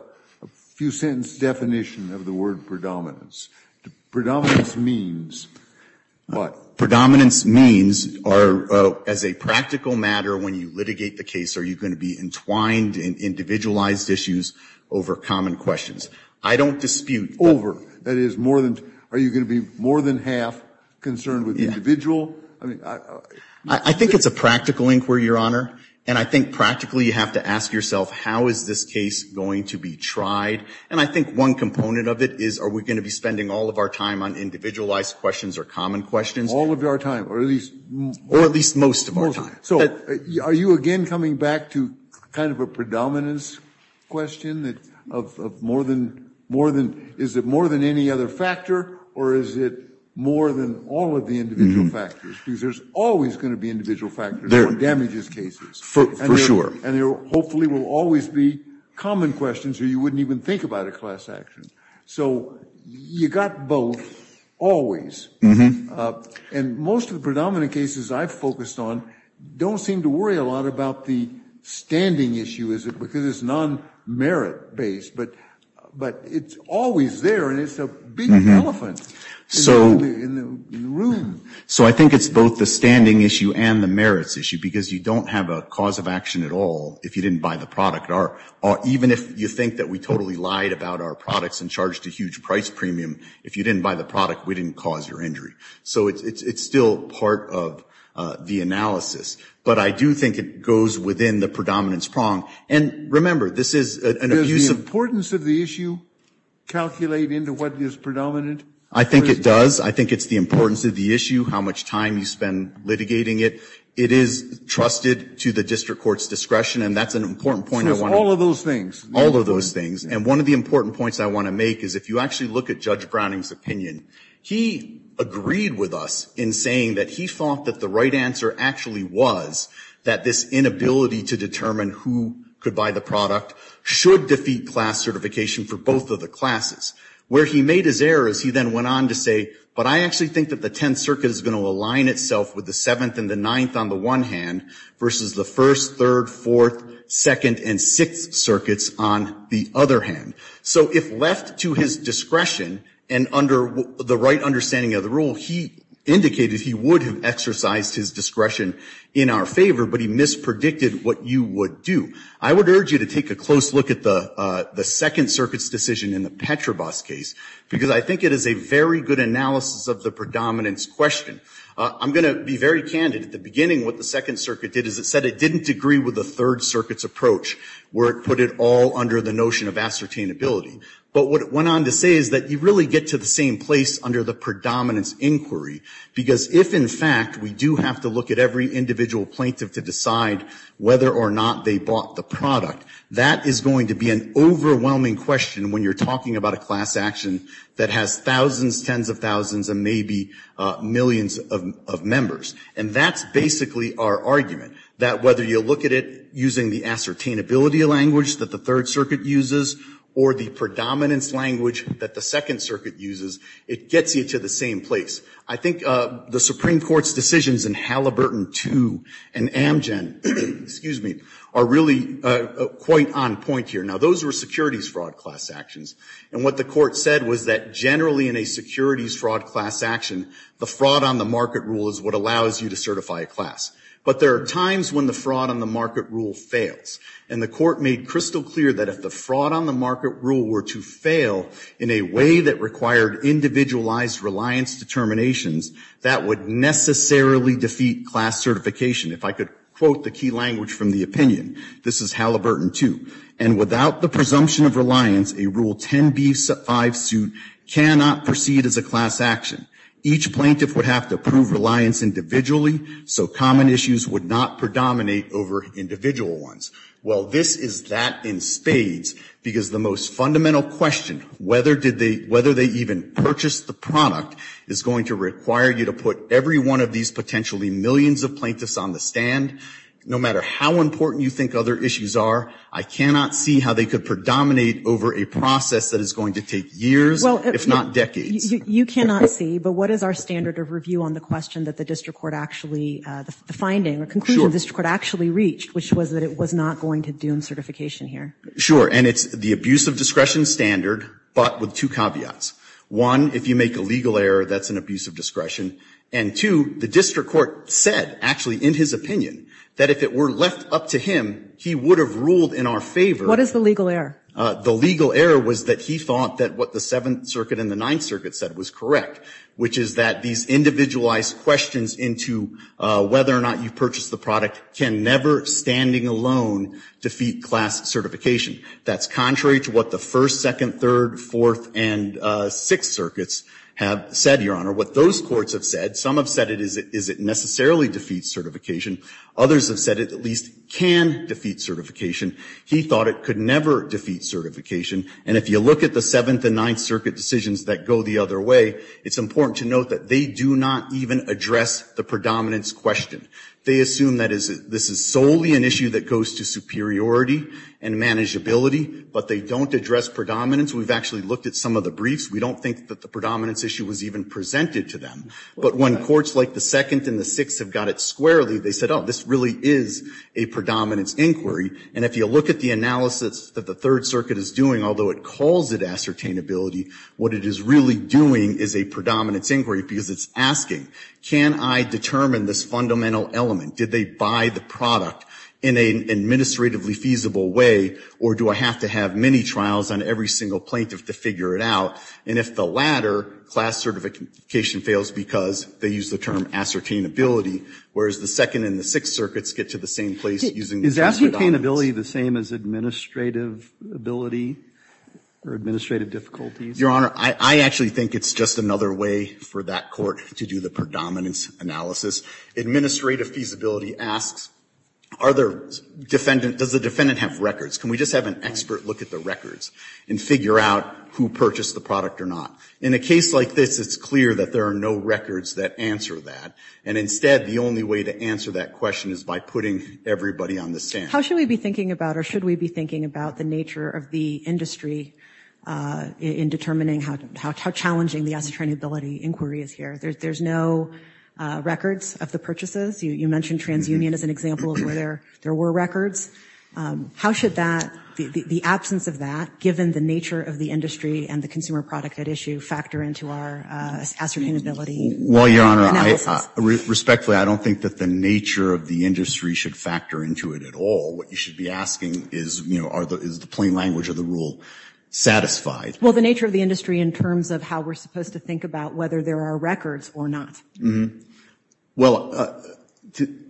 few sentence definition of the word predominance. Predominance means what? Predominance means as a practical matter, when you litigate the case, are you going to be entwined in individualized issues over common questions? I don't dispute that. That is, are you going to be more than half concerned with the individual? I think it's a practical inquiry, Your Honor, and I think practically you have to ask yourself, how is this case going to be tried? And I think one component of it is, are we going to be spending all of our time on individualized questions or common questions? All of our time, or at least most of our time. So are you again coming back to kind of a predominance question of more than, is it more than any other factor, or is it more than all of the individual factors? Because there's always going to be individual factors that damages cases. For sure. And there hopefully will always be common questions, or you wouldn't even think about a class action. So you've got both always. And most of the predominant cases I've focused on don't seem to worry a lot about the standing issue, because it's non-merit based, but it's always there and it's a big elephant in the room. So I think it's both the standing issue and the merits issue, because you don't have a cause of action at all if you didn't buy the product, or even if you think that we totally lied about our products and charged a huge price premium, if you didn't buy the product we didn't cause your injury. So it's still part of the analysis. But I do think it goes within the predominance prong. And remember, this is an abuse of... Does the importance of the issue calculate into what is predominant? I think it does. I think it's the importance of the issue, how much time you spend litigating it. It is trusted to the district court's discretion, and that's an important point I want to... Because all of those things. All of those things. And one of the important points I want to make is if you actually look at Judge Browning's opinion, he agreed with us in saying that he thought that the right answer actually was that this inability to determine who could buy the product should defeat class certification for both of the classes. Where he made his error is he then went on to say, but I actually think that the Tenth Circuit is going to align itself with the Seventh and the Ninth on the one hand, versus the First, Third, Fourth, Second, and Sixth Circuits on the other hand. So if left to his discretion, and under the right understanding of the rule, he indicated he would have exercised his discretion in our favor, but he mispredicted what you would do. I would urge you to take a close look at the Second Circuit's decision in the Petrobas case, because I think it is a very good analysis of the predominance question. I'm going to be very candid. At the beginning, what the Second Circuit did is it said it didn't agree with the Third Circuit's approach, where it put it all under the notion of ascertainability. But what it went on to say is that you really get to the same place under the predominance inquiry, because if in fact we do have to look at every individual plaintiff to decide whether or not they bought the product, that is going to be an overwhelming question when you're talking about a class action that has thousands, tens of thousands, and maybe millions of members. And that's basically our argument, that whether you look at it using the ascertainability language that the Third Circuit uses, or the predominance language that the Second Circuit uses, it gets you to the same place. I think the Supreme Court's decisions in Halliburton 2 and Amgen are really quite on point here. Now, those were securities fraud class actions. And what the court said was that generally in a securities fraud class action, the fraud on the market rule is what allows you to certify a class. But there are times when the fraud on the market rule fails. And the court made crystal clear that if the fraud on the market rule were to fail in a way that required individualized reliance determinations, that would necessarily defeat class certification. If I could quote the key language from the opinion, this is Halliburton 2. And without the presumption of reliance, a Rule 10b-5 suit cannot proceed as a class action. Each plaintiff would have to prove reliance individually, so common issues would not predominate over individual ones. Well, this is that in spades, because the most fundamental question, whether they even purchased the product, is going to require you to put every one of these potentially millions of plaintiffs on the stand. And no matter how important you think other issues are, I cannot see how they could predominate over a process that is going to take years, if not decades. You cannot see, but what is our standard of review on the question that the district court actually, the finding or conclusion the district court actually reached, which was that it was not going to do certification here? Sure. And it's the abuse of discretion standard, but with two caveats. One, if you make a legal error, that's an abuse of discretion. And two, the district court said, actually, in his opinion, that if it were left up to him, he would have ruled in our favor. What is the legal error? The legal error was that he thought that what the Seventh Circuit and the Ninth Circuit said was correct, which is that these individualized questions into whether or not you purchased the product can never, standing alone, defeat class certification. That's contrary to what the First, Second, Third, Fourth, and Sixth Circuits have said, Your Honor. What those courts have said, some have said, is it necessarily defeat certification? Others have said it at least can defeat certification. He thought it could never defeat certification. And if you look at the Seventh and Ninth Circuit decisions that go the other way, it's important to note that they do not even address the predominance question. They assume that this is solely an issue that goes to superiority and manageability, but they don't address predominance. We've actually looked at some of the briefs. We don't think that the predominance issue was even presented to them. But when courts like the Second and the Sixth have got it squarely, they said, Oh, this really is a predominance inquiry. And if you look at the analysis that the Third Circuit is doing, although it calls it ascertainability, what it is really doing is a predominance inquiry because it's asking, Can I determine this fundamental element? Did they buy the product in an administratively feasible way, or do I have to have many trials on every single plaintiff to figure it out? And if the latter, class certification fails because they use the term ascertainability, whereas the Second and the Sixth Circuits get to the same place using the predominance. Is ascertainability the same as administrative ability or administrative difficulties? Your Honor, I actually think it's just another way for that court to do the predominance analysis. Administrative feasibility asks, Does the defendant have records? Can we just have an expert look at the records and figure out who purchased the product or not? In a case like this, it's clear that there are no records that answer that. And instead, the only way to answer that question is by putting everybody on the stand. How should we be thinking about or should we be thinking about the nature of the industry in determining how challenging the ascertainability inquiry is here? There's no records of the purchases. You mentioned TransUnion as an example of where there were records. How should the absence of that, given the nature of the industry and the consumer product at issue, factor into our ascertainability? Well, Your Honor, respectfully, I don't think that the nature of the industry should factor into it at all. What you should be asking is, is the plain language of the rule satisfied? Well, the nature of the industry in terms of how we're supposed to think about whether there are records or not. Well,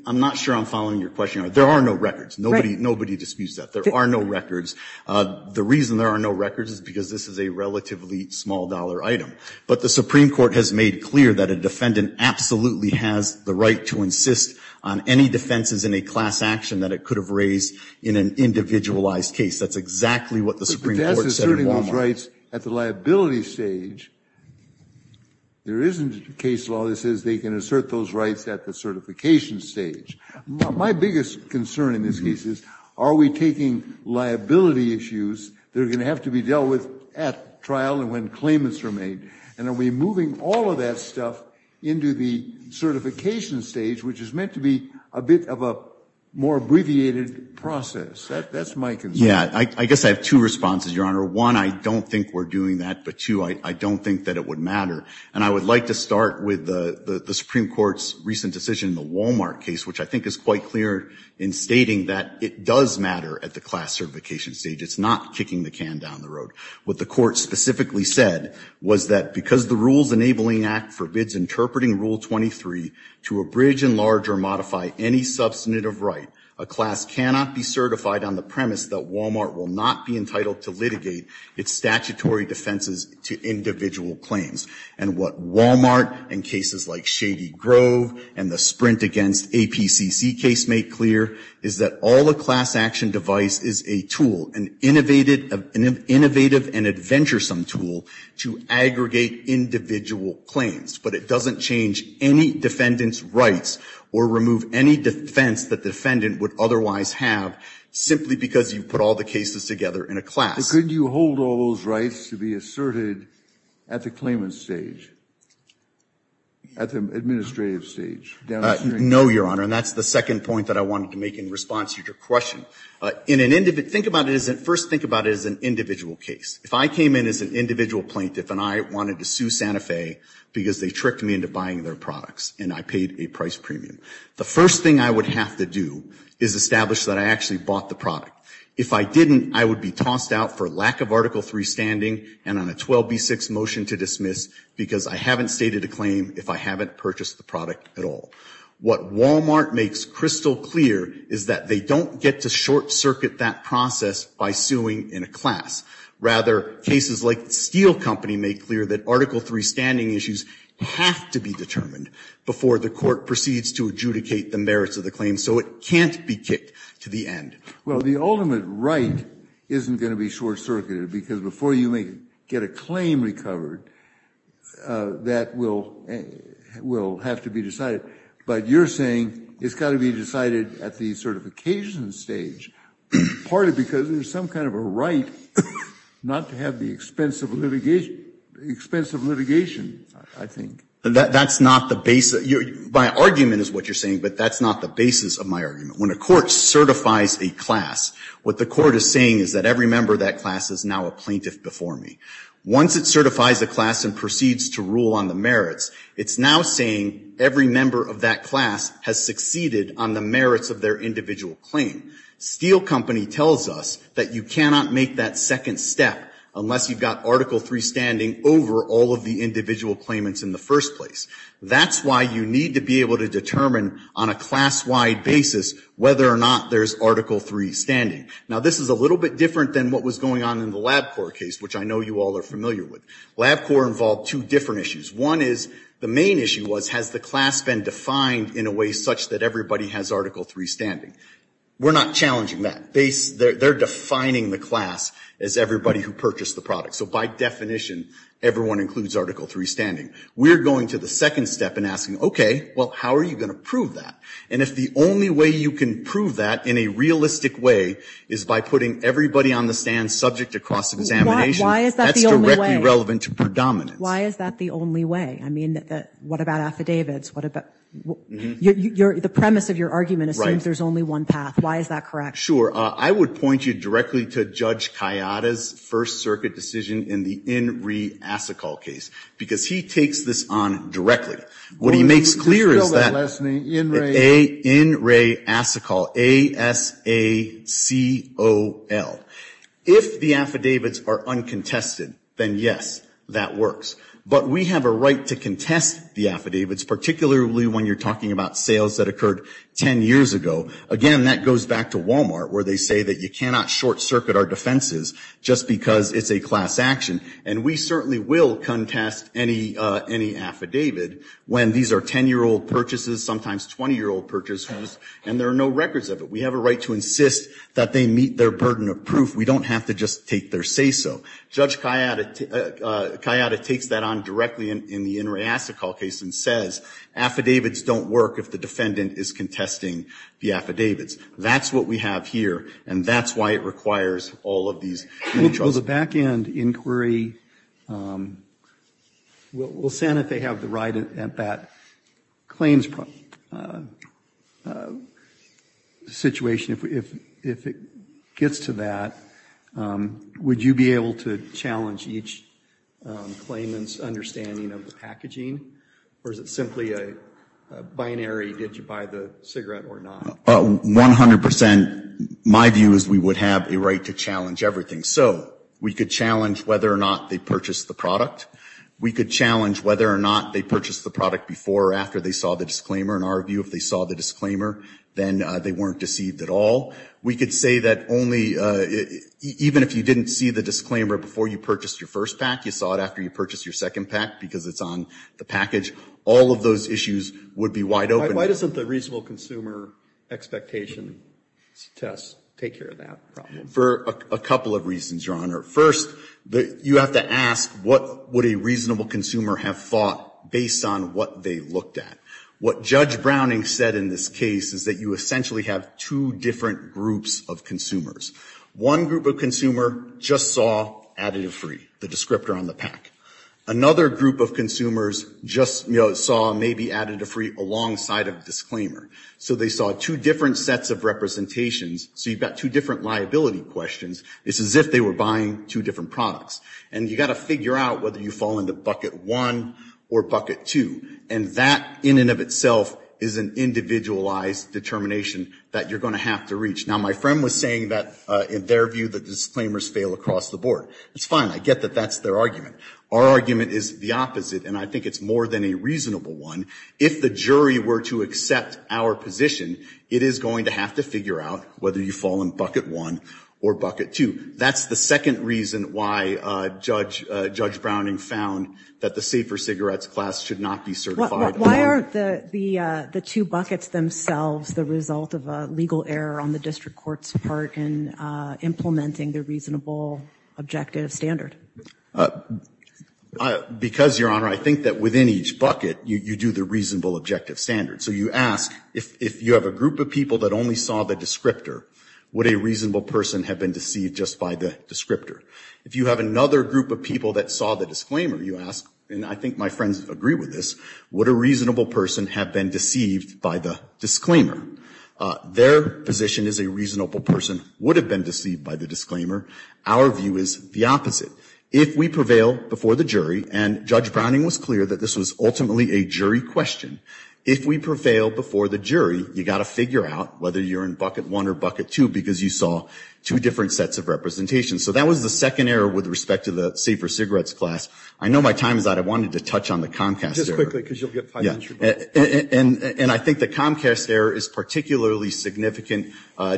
I'm not sure I'm following your question. There are no records. Nobody disputes that. There are no records. The reason there are no records is because this is a relatively small-dollar item. But the Supreme Court has made clear that a defendant absolutely has the right to insist on any defenses in a class action that it could have raised in an individualized case. That's exactly what the Supreme Court said in Wal-Mart. But that's asserting those rights at the liability stage. There isn't a case law that says they can assert those rights at the certification stage. My biggest concern in this case is, are we taking liability issues that are going to have to be dealt with at trial and when claimants are made, and are we moving all of that stuff into the certification stage, which is meant to be a bit of a more abbreviated process? That's my concern. Yeah, I guess I have two responses, Your Honor. One, I don't think we're doing that. But two, I don't think that it would matter. And I would like to start with the Supreme Court's recent decision in the Wal-Mart case, which I think is quite clear in stating that it does matter at the class certification stage. It's not kicking the can down the road. What the court specifically said was that because the Rules Enabling Act forbids interpreting Rule 23 to abridge, enlarge, or modify any substantive right, a class cannot be certified on the premise that Wal-Mart will not be entitled to litigate its statutory defenses to individual claims. And what Wal-Mart and cases like Shady Grove and the Sprint Against APCC case make clear is that all the class action device is a tool, an innovative and adventuresome tool, to aggregate individual claims. But it doesn't change any defendant's rights or remove any defense the defendant would otherwise have simply because you put all the cases together in a class. So could you hold all those rights to be asserted at the claimant's stage, at the administrative stage? No, Your Honor. And that's the second point that I wanted to make in response to your question. First, think about it as an individual case. If I came in as an individual plaintiff and I wanted to sue Santa Fe because they tricked me into buying their products and I paid a price premium, the first thing I would have to do is establish that I actually bought the product. If I didn't, I would be tossed out for lack of Article III standing and on a 12b6 motion to dismiss because I haven't stated a claim if I haven't purchased the product at all. What Wal-Mart makes crystal clear is that they don't get to short-circuit that process by suing in a class. Rather, cases like Steel Company make clear that Article III standing issues have to be determined before the court proceeds to adjudicate the merits of the claim so it can't be kicked to the end. Well, the ultimate right isn't going to be short-circuited because before you get a claim recovered, that will have to be decided. But you're saying it's got to be decided at the certification stage partly because there's some kind of a right not to have the expense of litigation, I think. That's not the basis. My argument is what you're saying, but that's not the basis of my argument. When a court certifies a class, what the court is saying is that every member of that class is now a plaintiff before me. Once it certifies a class and proceeds to rule on the merits, it's now saying every member of that class has succeeded on the merits of their individual claim. Steel Company tells us that you cannot make that second step unless you've got Article III standing over all of the individual claimants in the first place. That's why you need to be able to determine on a class-wide basis whether or not there's Article III standing. Now, this is a little bit different than what was going on in the LabCorp case, which I know you all are familiar with. LabCorp involved two different issues. One is the main issue was has the class been defined in a way such that everybody has Article III standing. We're not challenging that. They're defining the class as everybody who purchased the product. So by definition, everyone includes Article III standing. We're going to the second step and asking, okay, well, how are you going to prove that? And if the only way you can prove that in a realistic way is by putting everybody on the stand subject to cross-examination, that's directly relevant to predominance. Why is that the only way? I mean, what about affidavits? The premise of your argument is there's only one path. Why is that correct? Sure. I would point you directly to Judge Kayada's First Circuit decision in the N. He takes this on directly. What he makes clear is that the in-ray ASACOL, A-S-A-C-O-L. If the affidavits are uncontested, then yes, that works. But we have a right to contest the affidavits, particularly when you're talking about sales that occurred 10 years ago. Again, that goes back to Walmart where they say that you cannot short-circuit our defenses just because it's a class action. And we certainly will contest any affidavit when these are 10-year-old purchases, sometimes 20-year-old purchases, and there are no records of it. We have a right to insist that they meet their burden of proof. We don't have to just take their say-so. Judge Kayada takes that on directly in the in-ray ASACOL case and says affidavits don't work if the defendant is contesting the affidavits. That's what we have here, and that's why it requires all of these. So the back-end inquiry, we'll say that they have the right at that claims situation. If it gets to that, would you be able to challenge each claimant's understanding of the packaging, or is it simply a binary, did you buy the cigarette or not? About 100 percent, my view is we would have a right to challenge everything. So we could challenge whether or not they purchased the product. We could challenge whether or not they purchased the product before or after they saw the disclaimer. In our view, if they saw the disclaimer, then they weren't deceived at all. We could say that even if you didn't see the disclaimer before you purchased your first pack, you saw it after you purchased your second pack because it's on the package, all of those issues would be wide open. Why doesn't the reasonable consumer expectation test take care of that problem? For a couple of reasons, Your Honor. First, you have to ask what would a reasonable consumer have thought based on what they looked at. What Judge Browning said in this case is that you essentially have two different groups of consumers. One group of consumer just saw additive free, the descriptor on the pack. Another group of consumers just saw maybe additive free alongside of disclaimer. So they saw two different sets of representations. So you've got two different liability questions. It's as if they were buying two different products. And you've got to figure out whether you fall into bucket one or bucket two. And that, in and of itself, is an individualized determination that you're going to have to reach. Now, my friend was saying that, in their view, the disclaimers fail across the board. It's fine. I get that that's their argument. Our argument is the opposite, and I think it's more than a reasonable one. If the jury were to accept our position, it is going to have to figure out whether you fall in bucket one or bucket two. That's the second reason why Judge Browning found that the safer cigarettes class should not be certified. Why aren't the two buckets themselves the result of a legal error on the district court's part in implementing the reasonable objective standard? Because, Your Honor, I think that within each bucket, you do the reasonable objective standard. So you ask, if you have a group of people that only saw the descriptor, would a reasonable person have been deceived just by the descriptor? If you have another group of people that saw the disclaimer, you ask, and I think my friends agree with this, would a reasonable person have been deceived by the disclaimer? Their position is a reasonable person would have been deceived by the disclaimer. Our view is the opposite. If we prevail before the jury, and Judge Browning was clear that this was ultimately a jury question, if we prevail before the jury, you've got to figure out whether you're in bucket one or bucket two because you saw two different sets of representation. So that was the second error with respect to the safer cigarettes class. I know my time is out. I wanted to touch on the Comcast error. Just quickly because you'll get five minutes. And I think the Comcast error is particularly significant.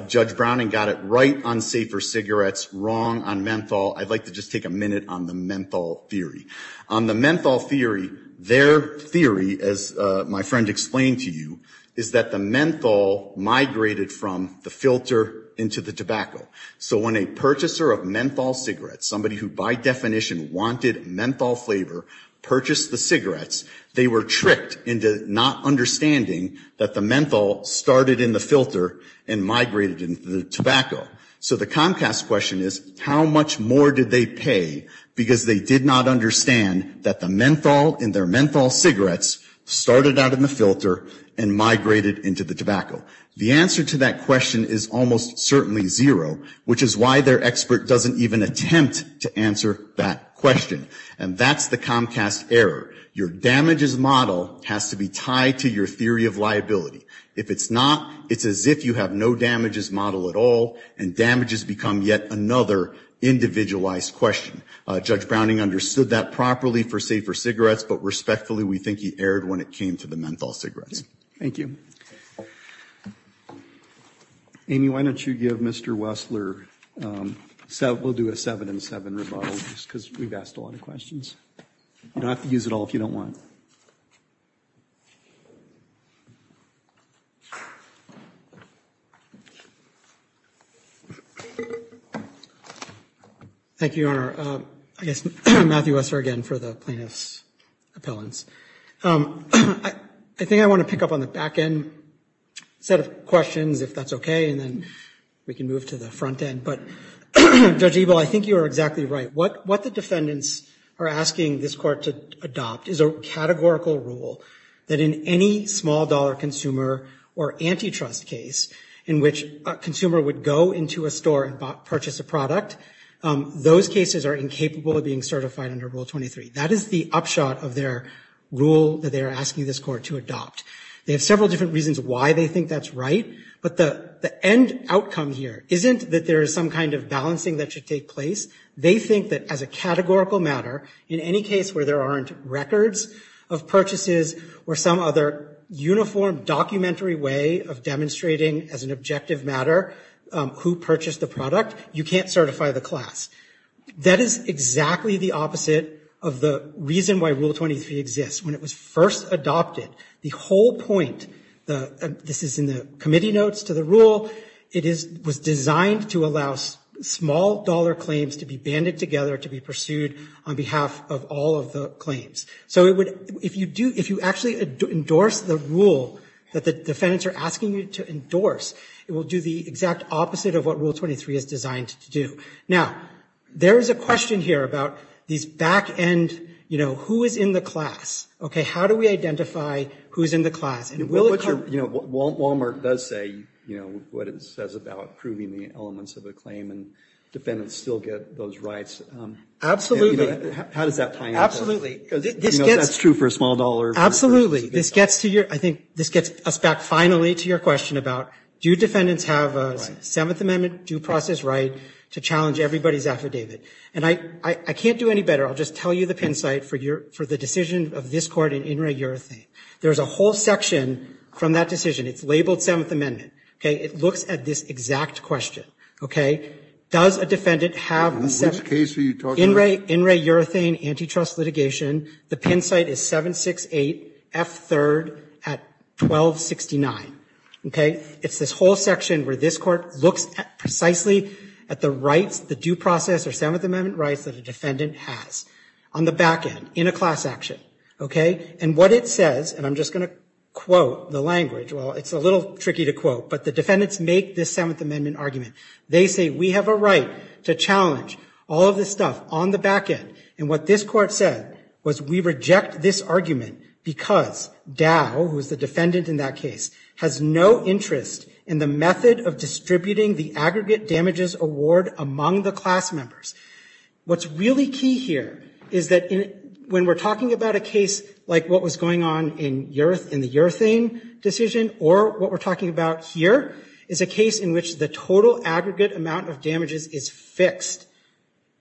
Judge Browning got it right on safer cigarettes, wrong on menthol. I'd like to just take a minute on the menthol theory. On the menthol theory, their theory, as my friend explained to you, is that the menthol migrated from the filter into the tobacco. So when a purchaser of menthol cigarettes, somebody who by definition wanted menthol flavor, purchased the cigarettes, they were tricked into not understanding that the menthol started in the filter and migrated into the tobacco. So the Comcast question is, how much more did they pay because they did not understand that the menthol and their menthol cigarettes started out in the filter and migrated into the tobacco? The answer to that question is almost certainly zero, which is why their expert doesn't even attempt to answer that question. And that's the Comcast error. Your damages model has to be tied to your theory of liability. If it's not, it's as if you have no damages model at all, and damages become yet another individualized question. Judge Browning understood that properly for safer cigarettes, but respectfully we think he erred when it came to the menthol cigarettes. Thank you. Amy, why don't you give Mr. Wessler, we'll do a seven and seven rebuttal just because we've asked a lot of questions. You don't have to use it all if you don't want. Thank you, Your Honor. I guess, Matthew Wessler again for the plaintiff's appellants. I think I want to pick up on the back end set of questions, if that's okay, and then we can move to the front end. But Judge Ebel, I think you are exactly right. What the defendants are asking this court to adopt is a categorical rule that in any small dollar consumer or antitrust case in which a consumer would go into a store and purchase a product, those cases are incapable of being certified under Rule 23. That is the upshot of their rule that they are asking this court to adopt. They have several different reasons why they think that's right, but the end outcome here isn't that there is some kind of balancing that should take place. They think that as a categorical matter, in any case where there aren't records of purchases or some other uniform documentary way of demonstrating as an objective matter who purchased the product, you can't certify the class. That is exactly the opposite of the reason why Rule 23 exists. When it was first adopted, the whole point, this is in the committee notes to the rule, it was designed to allow small dollar claims to be banded together to be pursued on behalf of all of the claims. So if you actually endorse the rule that the defendants are asking you to endorse, it will do the exact opposite of what Rule 23 is designed to do. Now, there is a question here about these back end, you know, who is in the class? Okay, how do we identify who is in the class? Wal-Mart does say, you know, what it says about approving the elements of a claim and defendants still get those rights. Absolutely. How does that play out? Absolutely. You know, that's true for a small dollar. Absolutely. This gets us back finally to your question about do defendants have a Seventh Amendment due process right to challenge everybody's affidavit. And I can't do any better. I'll just tell you the pin site for the decision of this court in In Re Urethane. There's a whole section from that decision. It's labeled Seventh Amendment. It looks at this exact question. Does a defendant have In Re Urethane antitrust litigation? The pin site is 768F3 at 1269. Okay? It's this whole section where this court looks precisely at the rights, the due process or Seventh Amendment rights that a defendant has on the back end in a class action. Okay? And what it says, and I'm just going to quote the language. Well, it's a little tricky to quote, but the defendants make this Seventh Amendment argument. They say we have a right to challenge all of this stuff on the back end. And what this court said was we reject this argument because Dow, who is the defendant in that case, has no interest in the method of distributing the aggregate damages award among the class members. What's really key here is that when we're talking about a case like what was going on in the urethane decision or what we're talking about here is a case in which the total aggregate amount of damages is fixed.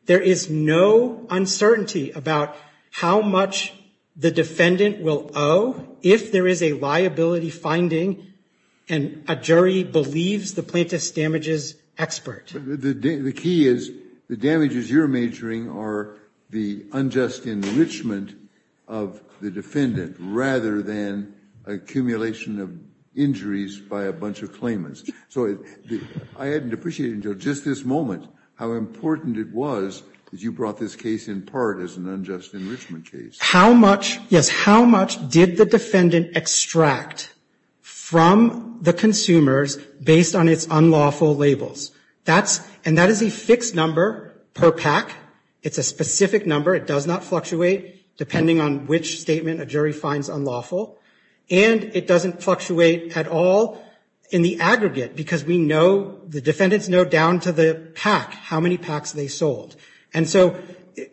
There is no uncertainty about how much the defendant will owe if there is a liability finding and a jury believes the plaintiff's damages expert. The key is the damages you're measuring are the unjust enrichment of the defendant rather than accumulation of injuries by a bunch of claimants. I hadn't appreciated until just this moment how important it was that you brought this case in part as an unjust enrichment case. How much did the defendant extract from the consumers based on its unlawful labels? And that is a fixed number per pack. It's a specific number. It does not fluctuate depending on which statement a jury finds unlawful. And it doesn't fluctuate at all in the aggregate because we know, the defendants know down to the pack, how many packs they sold. And so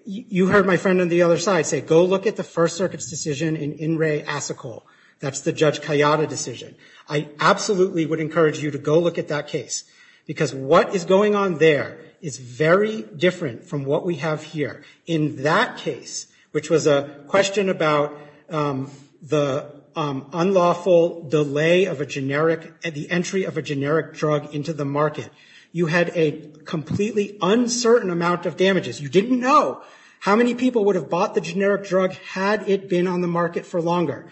you heard my friend on the other side say, go look at the First Circuit's decision in In Re Athicol. That's the Judge Kayada decision. I absolutely would encourage you to go look at that case because what is going on there is very different from what we have here. In that case, which was a question about the unlawful delay of the entry of a generic drug into the market, you had a completely uncertain amount of damages. You didn't know how many people would have bought the generic drug had it been on the market for longer.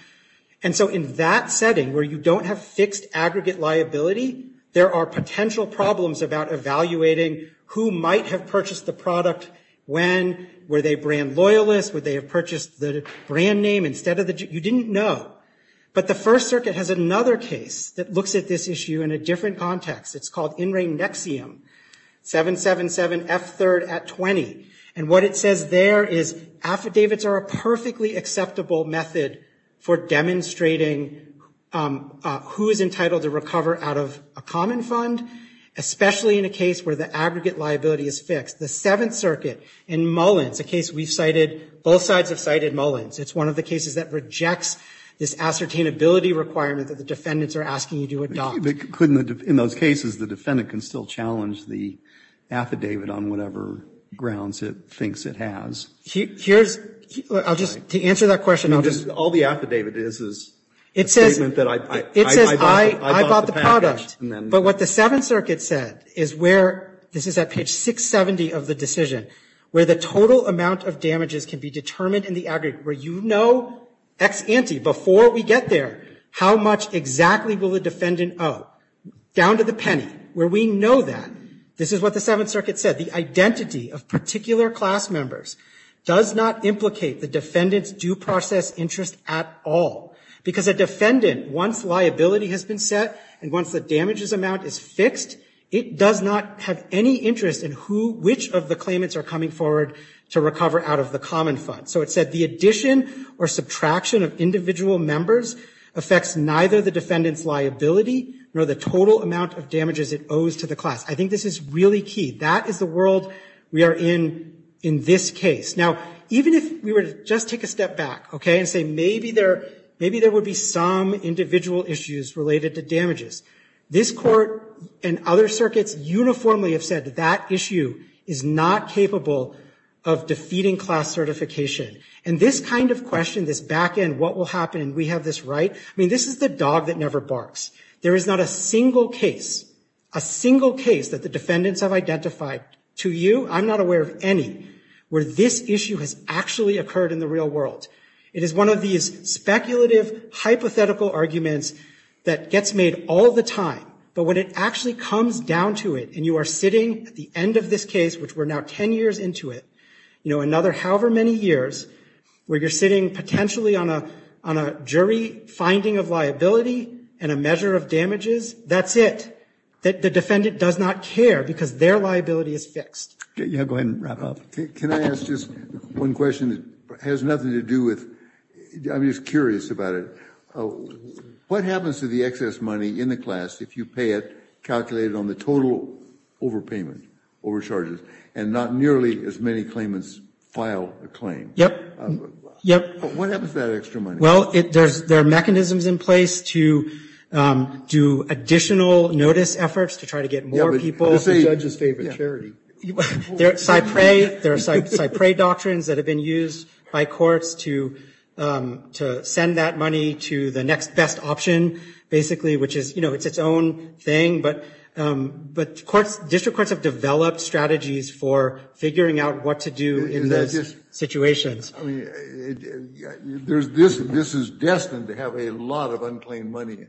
And so in that setting where you don't have fixed aggregate liability, there are potential problems about evaluating who might have purchased the product when. Were they brand loyalists? Would they have purchased the brand name instead of the generic? You didn't know. But the First Circuit has another case that looks at this issue in a different context. It's called In Re Nexium, 777F3 at 20. And what it says there is affidavits are a perfectly acceptable method for demonstrating who is entitled to recover out of a common fund, especially in a case where the aggregate liability is fixed. The Seventh Circuit in Mullins, a case we cited, both sides have cited Mullins. It's one of the cases that rejects this ascertainability requirement that the defendants are asking you to adopt. In those cases, the defendant can still challenge the affidavit on whatever grounds it thinks it has. Here's, to answer that question. All the affidavit is is a statement that I bought the product. But what the Seventh Circuit said is where, this is at page 670 of the decision, where the total amount of damages can be determined in the aggregate, where you know ex ante, before we get there, how much exactly will the defendant owe. Down to the penny, where we know that. This is what the Seventh Circuit said. The identity of particular class members does not implicate the defendant's due process interest at all. Because a defendant, once liability has been set and once the damages amount is fixed, it does not have any interest in who, which of the claimants are coming forward to recover out of the common fund. So it said the addition or subtraction of individual members affects neither the defendant's liability nor the total amount of damages it owes to the class. I think this is really key. That is the world we are in in this case. Now, even if we were to just take a step back, okay, and say maybe there would be some individual issues related to damages. This court and other circuits uniformly have said that that issue is not capable of defeating class certification. And this kind of question, this back end, what will happen, we have this right, I mean, this is the dog that never barks. There is not a single case, a single case that the defendants have identified to you, I'm not aware of any, where this issue has actually occurred in the real world. It is one of these speculative hypothetical arguments that gets made all the time. But when it actually comes down to it and you are sitting at the end of this case, which we're now ten years into it, you know, another however many years, where you're sitting potentially on a jury finding of liability and a measure of damages, that's it. The defendant does not care because their liability is fixed. Go ahead and wrap up. Can I ask just one question that has nothing to do with, I'm just curious about it. What happens to the excess money in the class if you pay it calculated on the total overpayment, overcharges, and not nearly as many claimants file a claim? Yep, yep. But what happens to that extra money? Well, there are mechanisms in place to do additional notice efforts to try to get more people. Yeah, but that's the judge's favorite charity. There are CyPray doctrines that have been used by courts to send that money to the next best option, basically, which is, you know, it's its own thing. But district courts have developed strategies for figuring out what to do in those situations. I mean, this is destined to have a lot of unclaimed money,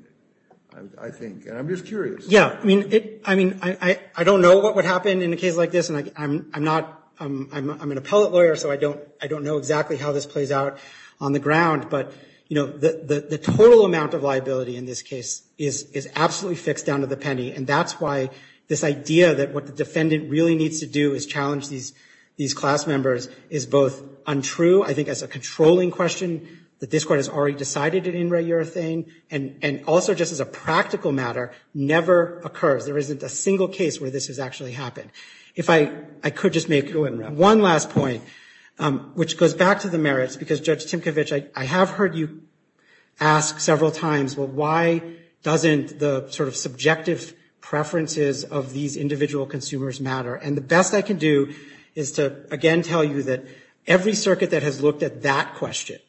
I think, and I'm just curious. Yeah, I mean, I don't know what would happen in a case like this, and I'm an appellate lawyer, so I don't know exactly how this plays out on the ground. But, you know, the total amount of liability in this case is absolutely fixed down to the penny, and that's why this idea that what the defendant really needs to do is challenge these class members is both untrue, I think as a controlling question that this court has already decided it in regular thing, and also just as a practical matter, never occurs. There isn't a single case where this has actually happened. I could just make one last point, which goes back to the merits, because, Judge Tinkovich, I have heard you ask several times, well, why doesn't the sort of subjective preferences of these individual consumers matter? And the best I can do is to, again, tell you that every circuit that has looked at that question,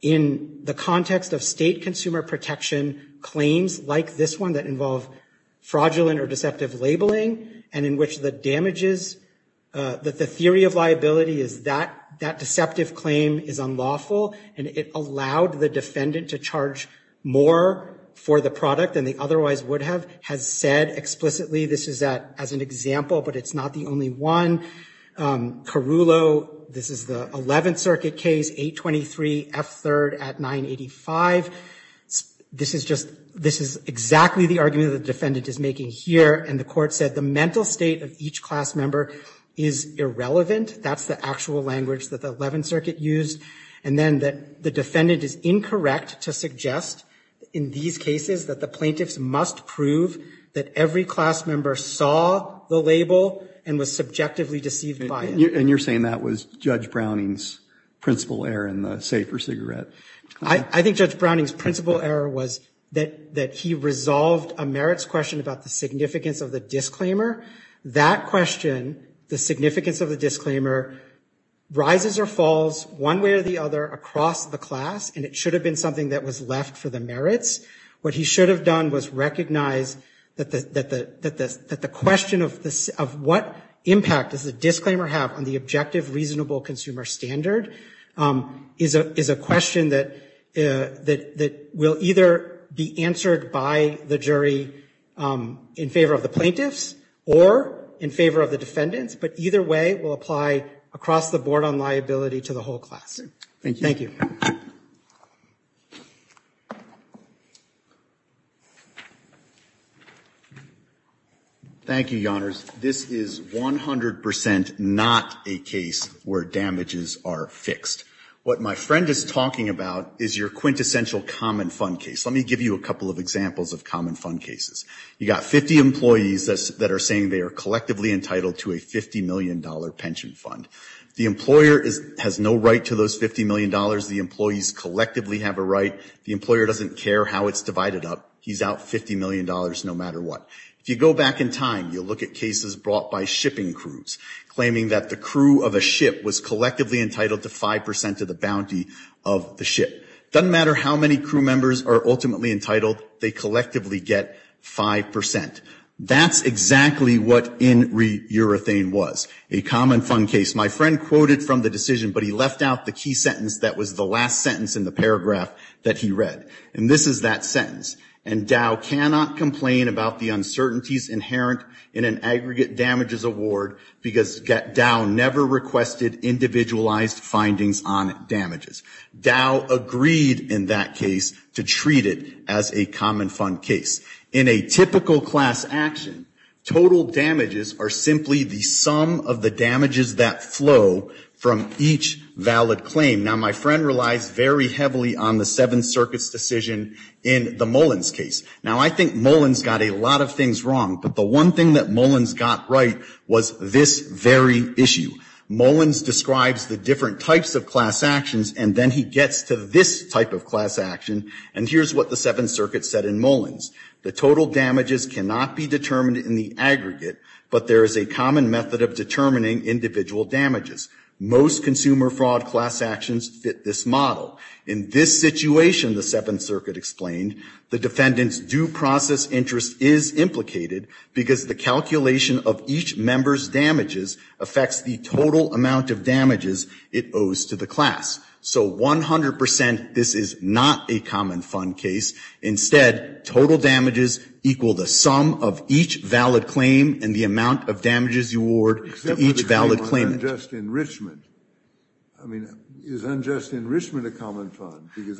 in the context of state consumer protection claims like this one that involve fraudulent or deceptive labeling and in which the damages, that the theory of liability is that, that deceptive claim is unlawful, and it allowed the defendant to charge more for the product than they otherwise would have, has said explicitly this is that, as an example, but it's not the only one. Carrullo, this is the 11th Circuit case, 823 F. 3rd at 985. This is just, this is exactly the argument the defendant is making here, and the court said the mental state of each class member is irrelevant. That's the actual language that the 11th Circuit used, and then that the defendant is incorrect to suggest, in these cases, that the plaintiff must prove that every class member saw the label and was subjectively deceived by it. And you're saying that was Judge Browning's principal error in the safer cigarette claim? I think Judge Browning's principal error was that he resolved a merits question about the significance of the disclaimer. That question, the significance of the disclaimer, rises or falls one way or the other across the class, and it should have been something that was left for the merits. What he should have done was recognize that the question of what impact does the disclaimer have on the objective reasonable consumer standard is a question that will either be answered by the jury in favor of the plaintiffs or in favor of the defendants, but either way will apply across the board on liability to the whole class. Thank you. Thank you, Your Honors. This is 100% not a case where damages are fixed. What my friend is talking about is your quintessential common fund case. Let me give you a couple of examples of common fund cases. You've got 50 employees that are saying they are collectively entitled to a $50 million pension fund. The employer has no right to those $50 million. The employees collectively have a right. The employer doesn't care how it's divided up. He's out $50 million no matter what. If you go back in time, you'll look at cases brought by shipping crews, claiming that the crew of a ship was collectively entitled to 5% of the bounty of the ship. It doesn't matter how many crew members are ultimately entitled. They collectively get 5%. That's exactly what in re-urethane was, a common fund case. My friend quoted from the decision, but he left out the key sentence that was the last sentence in the paragraph that he read. This is that sentence. Dow cannot complain about the uncertainties inherent in an aggregate damages award because Dow never requested individualized findings on damages. Dow agreed in that case to treat it as a common fund case. In a typical class action, total damages are simply the sum of the damages that flow from each valid claim. Now, my friend relies very heavily on the Seventh Circuit's decision in the Mullins case. Now, I think Mullins got a lot of things wrong, but the one thing that Mullins got right was this very issue. Mullins describes the different types of class actions, and then he gets to this type of class action, and here's what the Seventh Circuit said in Mullins. The total damages cannot be determined in the aggregate, but there is a common method of determining individual damages. Most consumer fraud class actions fit this model. In this situation, the Seventh Circuit explained, the defendant's due process interest is implicated because the calculation of each member's damages affects the total amount of damages it owes to the class. So 100% this is not a common fund case. Instead, total damages equal the sum of each valid claim and the amount of damages you award to each valid claimant. Is unjust enrichment a common fund? Because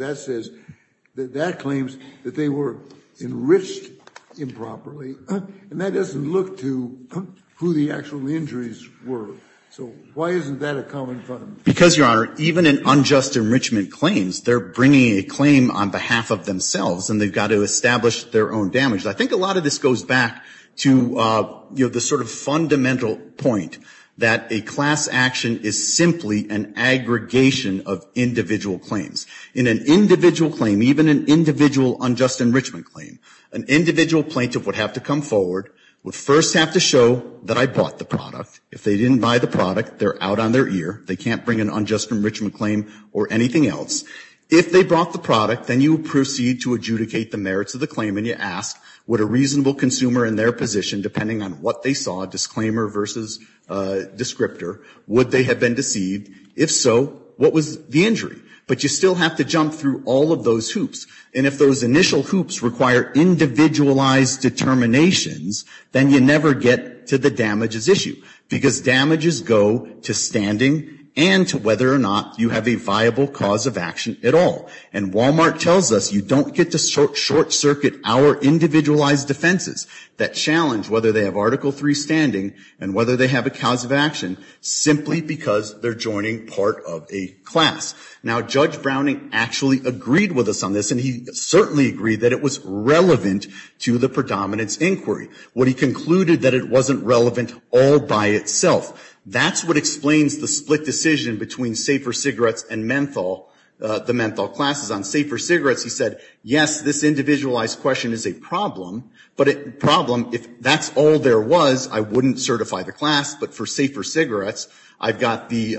that claims that they were enriched improperly, and that doesn't look to who the actual injuries were. So why isn't that a common fund? Because, Your Honor, even in unjust enrichment claims, they're bringing a claim on behalf of themselves, and they've got to establish their own damage. I think a lot of this goes back to the sort of fundamental point that a class action is simply an aggregation of individual claims. In an individual claim, even an individual unjust enrichment claim, an individual plaintiff would have to come forward, would first have to show that I bought the product. If they didn't buy the product, they're out on their ear. They can't bring an unjust enrichment claim or anything else. If they bought the product, then you proceed to adjudicate the merits of the claim and you ask would a reasonable consumer in their position, depending on what they saw, disclaimer versus descriptor, would they have been deceived? If so, what was the injury? But you still have to jump through all of those hoops. And if those initial hoops require individualized determinations, then you never get to the damages issue. Because damages go to standing and to whether or not you have a viable cause of action at all. And Walmart tells us you don't get to short-circuit our individualized defenses that challenge whether they have Article III standing and whether they have a cause of action simply because they're joining part of a class. Now Judge Browning actually agreed with us on this, and he certainly agreed that it was relevant to the predominance inquiry. What he concluded that it wasn't relevant all by itself. That's what explains the split decision between safer cigarettes and menthol, the menthol classes on safer cigarettes. He said, yes, this individualized question is a problem. But a problem, if that's all there was, I wouldn't certify the class. But for safer cigarettes, I've got the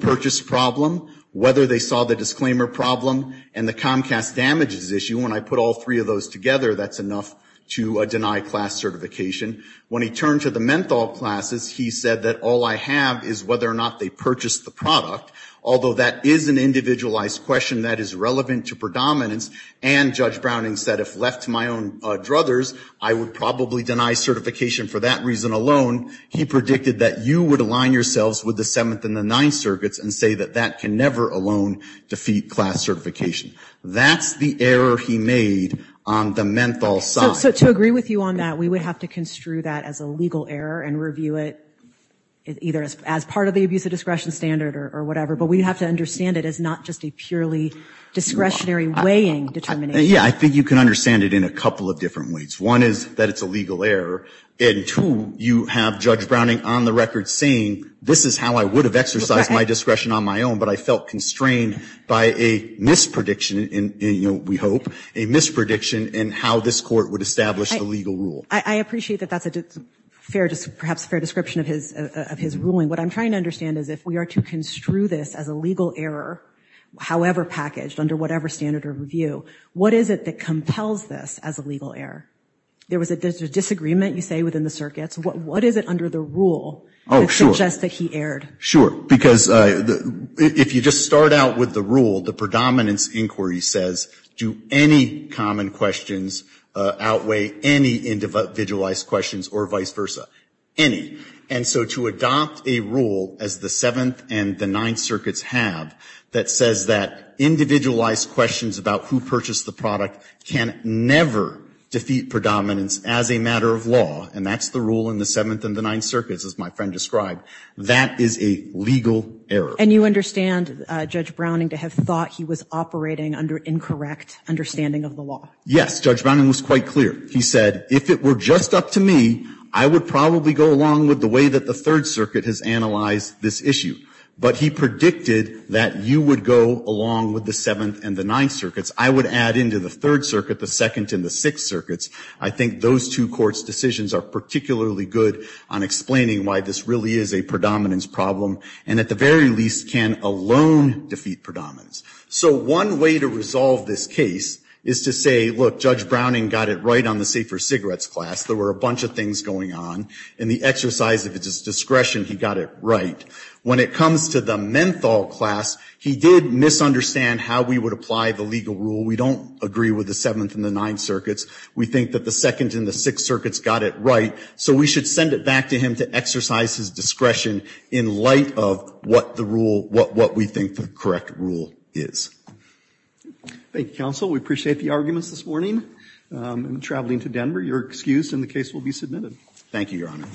purchase problem, whether they saw the disclaimer problem, and the Comcast damages issue. And when I put all three of those together, that's enough to deny class certification. When he turned to the menthol classes, he said that all I have is whether or not they purchased the product. Although that is an individualized question that is relevant to predominance. And Judge Browning said, if left to my own druthers, I would probably deny certification for that reason alone. He predicted that you would align yourselves with the Seventh and the Ninth Circuits and say that that can never alone defeat class certification. That's the error he made on the menthol side. So to agree with you on that, we would have to construe that as a legal error and review it either as part of the abuse of discretion standard or whatever. But we have to understand it as not just a purely discretionary weighing determination. Yeah, I think you can understand it in a couple of different ways. One is that it's a legal error. And two, you have Judge Browning on the record saying, this is how I would have exercised my discretion on my own, but I felt constrained by a misprediction, we hope, a misprediction in how this court would establish a legal rule. I appreciate that that's perhaps a fair description of his ruling. What I'm trying to understand is if we are to construe this as a legal error, however packaged, under whatever standard or review, what is it that compels this as a legal error? There was a disagreement, you say, within the circuits. What is it under the rule that suggests that he erred? Sure. Because if you just start out with the rule, the predominance inquiry says, do any common questions outweigh any individualized questions or vice versa? Any. And so to adopt a rule, as the Seventh and the Ninth Circuits have, that says that individualized questions about who purchased the product can never defeat predominance as a matter of law, and that's the rule in the Seventh and the Ninth Circuits, as my friend described, that is a legal error. And you understand Judge Browning to have thought he was operating under incorrect understanding of the law? Yes, Judge Browning was quite clear. He said, if it were just up to me, I would probably go along with the way that the Third Circuit has analyzed this issue. But he predicted that you would go along with the Seventh and the Ninth Circuits. I would add into the Third Circuit the Second and the Sixth Circuits. I think those two courts' decisions are particularly good on explaining why this really is a predominance problem, and at the very least can alone defeat predominance. So one way to resolve this case is to say, look, Judge Browning got it right on the safer cigarettes class. There were a bunch of things going on. In the exercise of his discretion, he got it right. When it comes to the menthol class, he did misunderstand how we would apply the legal rule. We don't agree with the Seventh and the Ninth Circuits. We think that the Second and the Sixth Circuits got it right, so we should send it back to him to exercise his discretion in light of what we think the correct rule is. Thank you, counsel. We appreciate the arguments this morning. In traveling to Denver, your excuse in the case will be submitted. Thank you, Your Honor.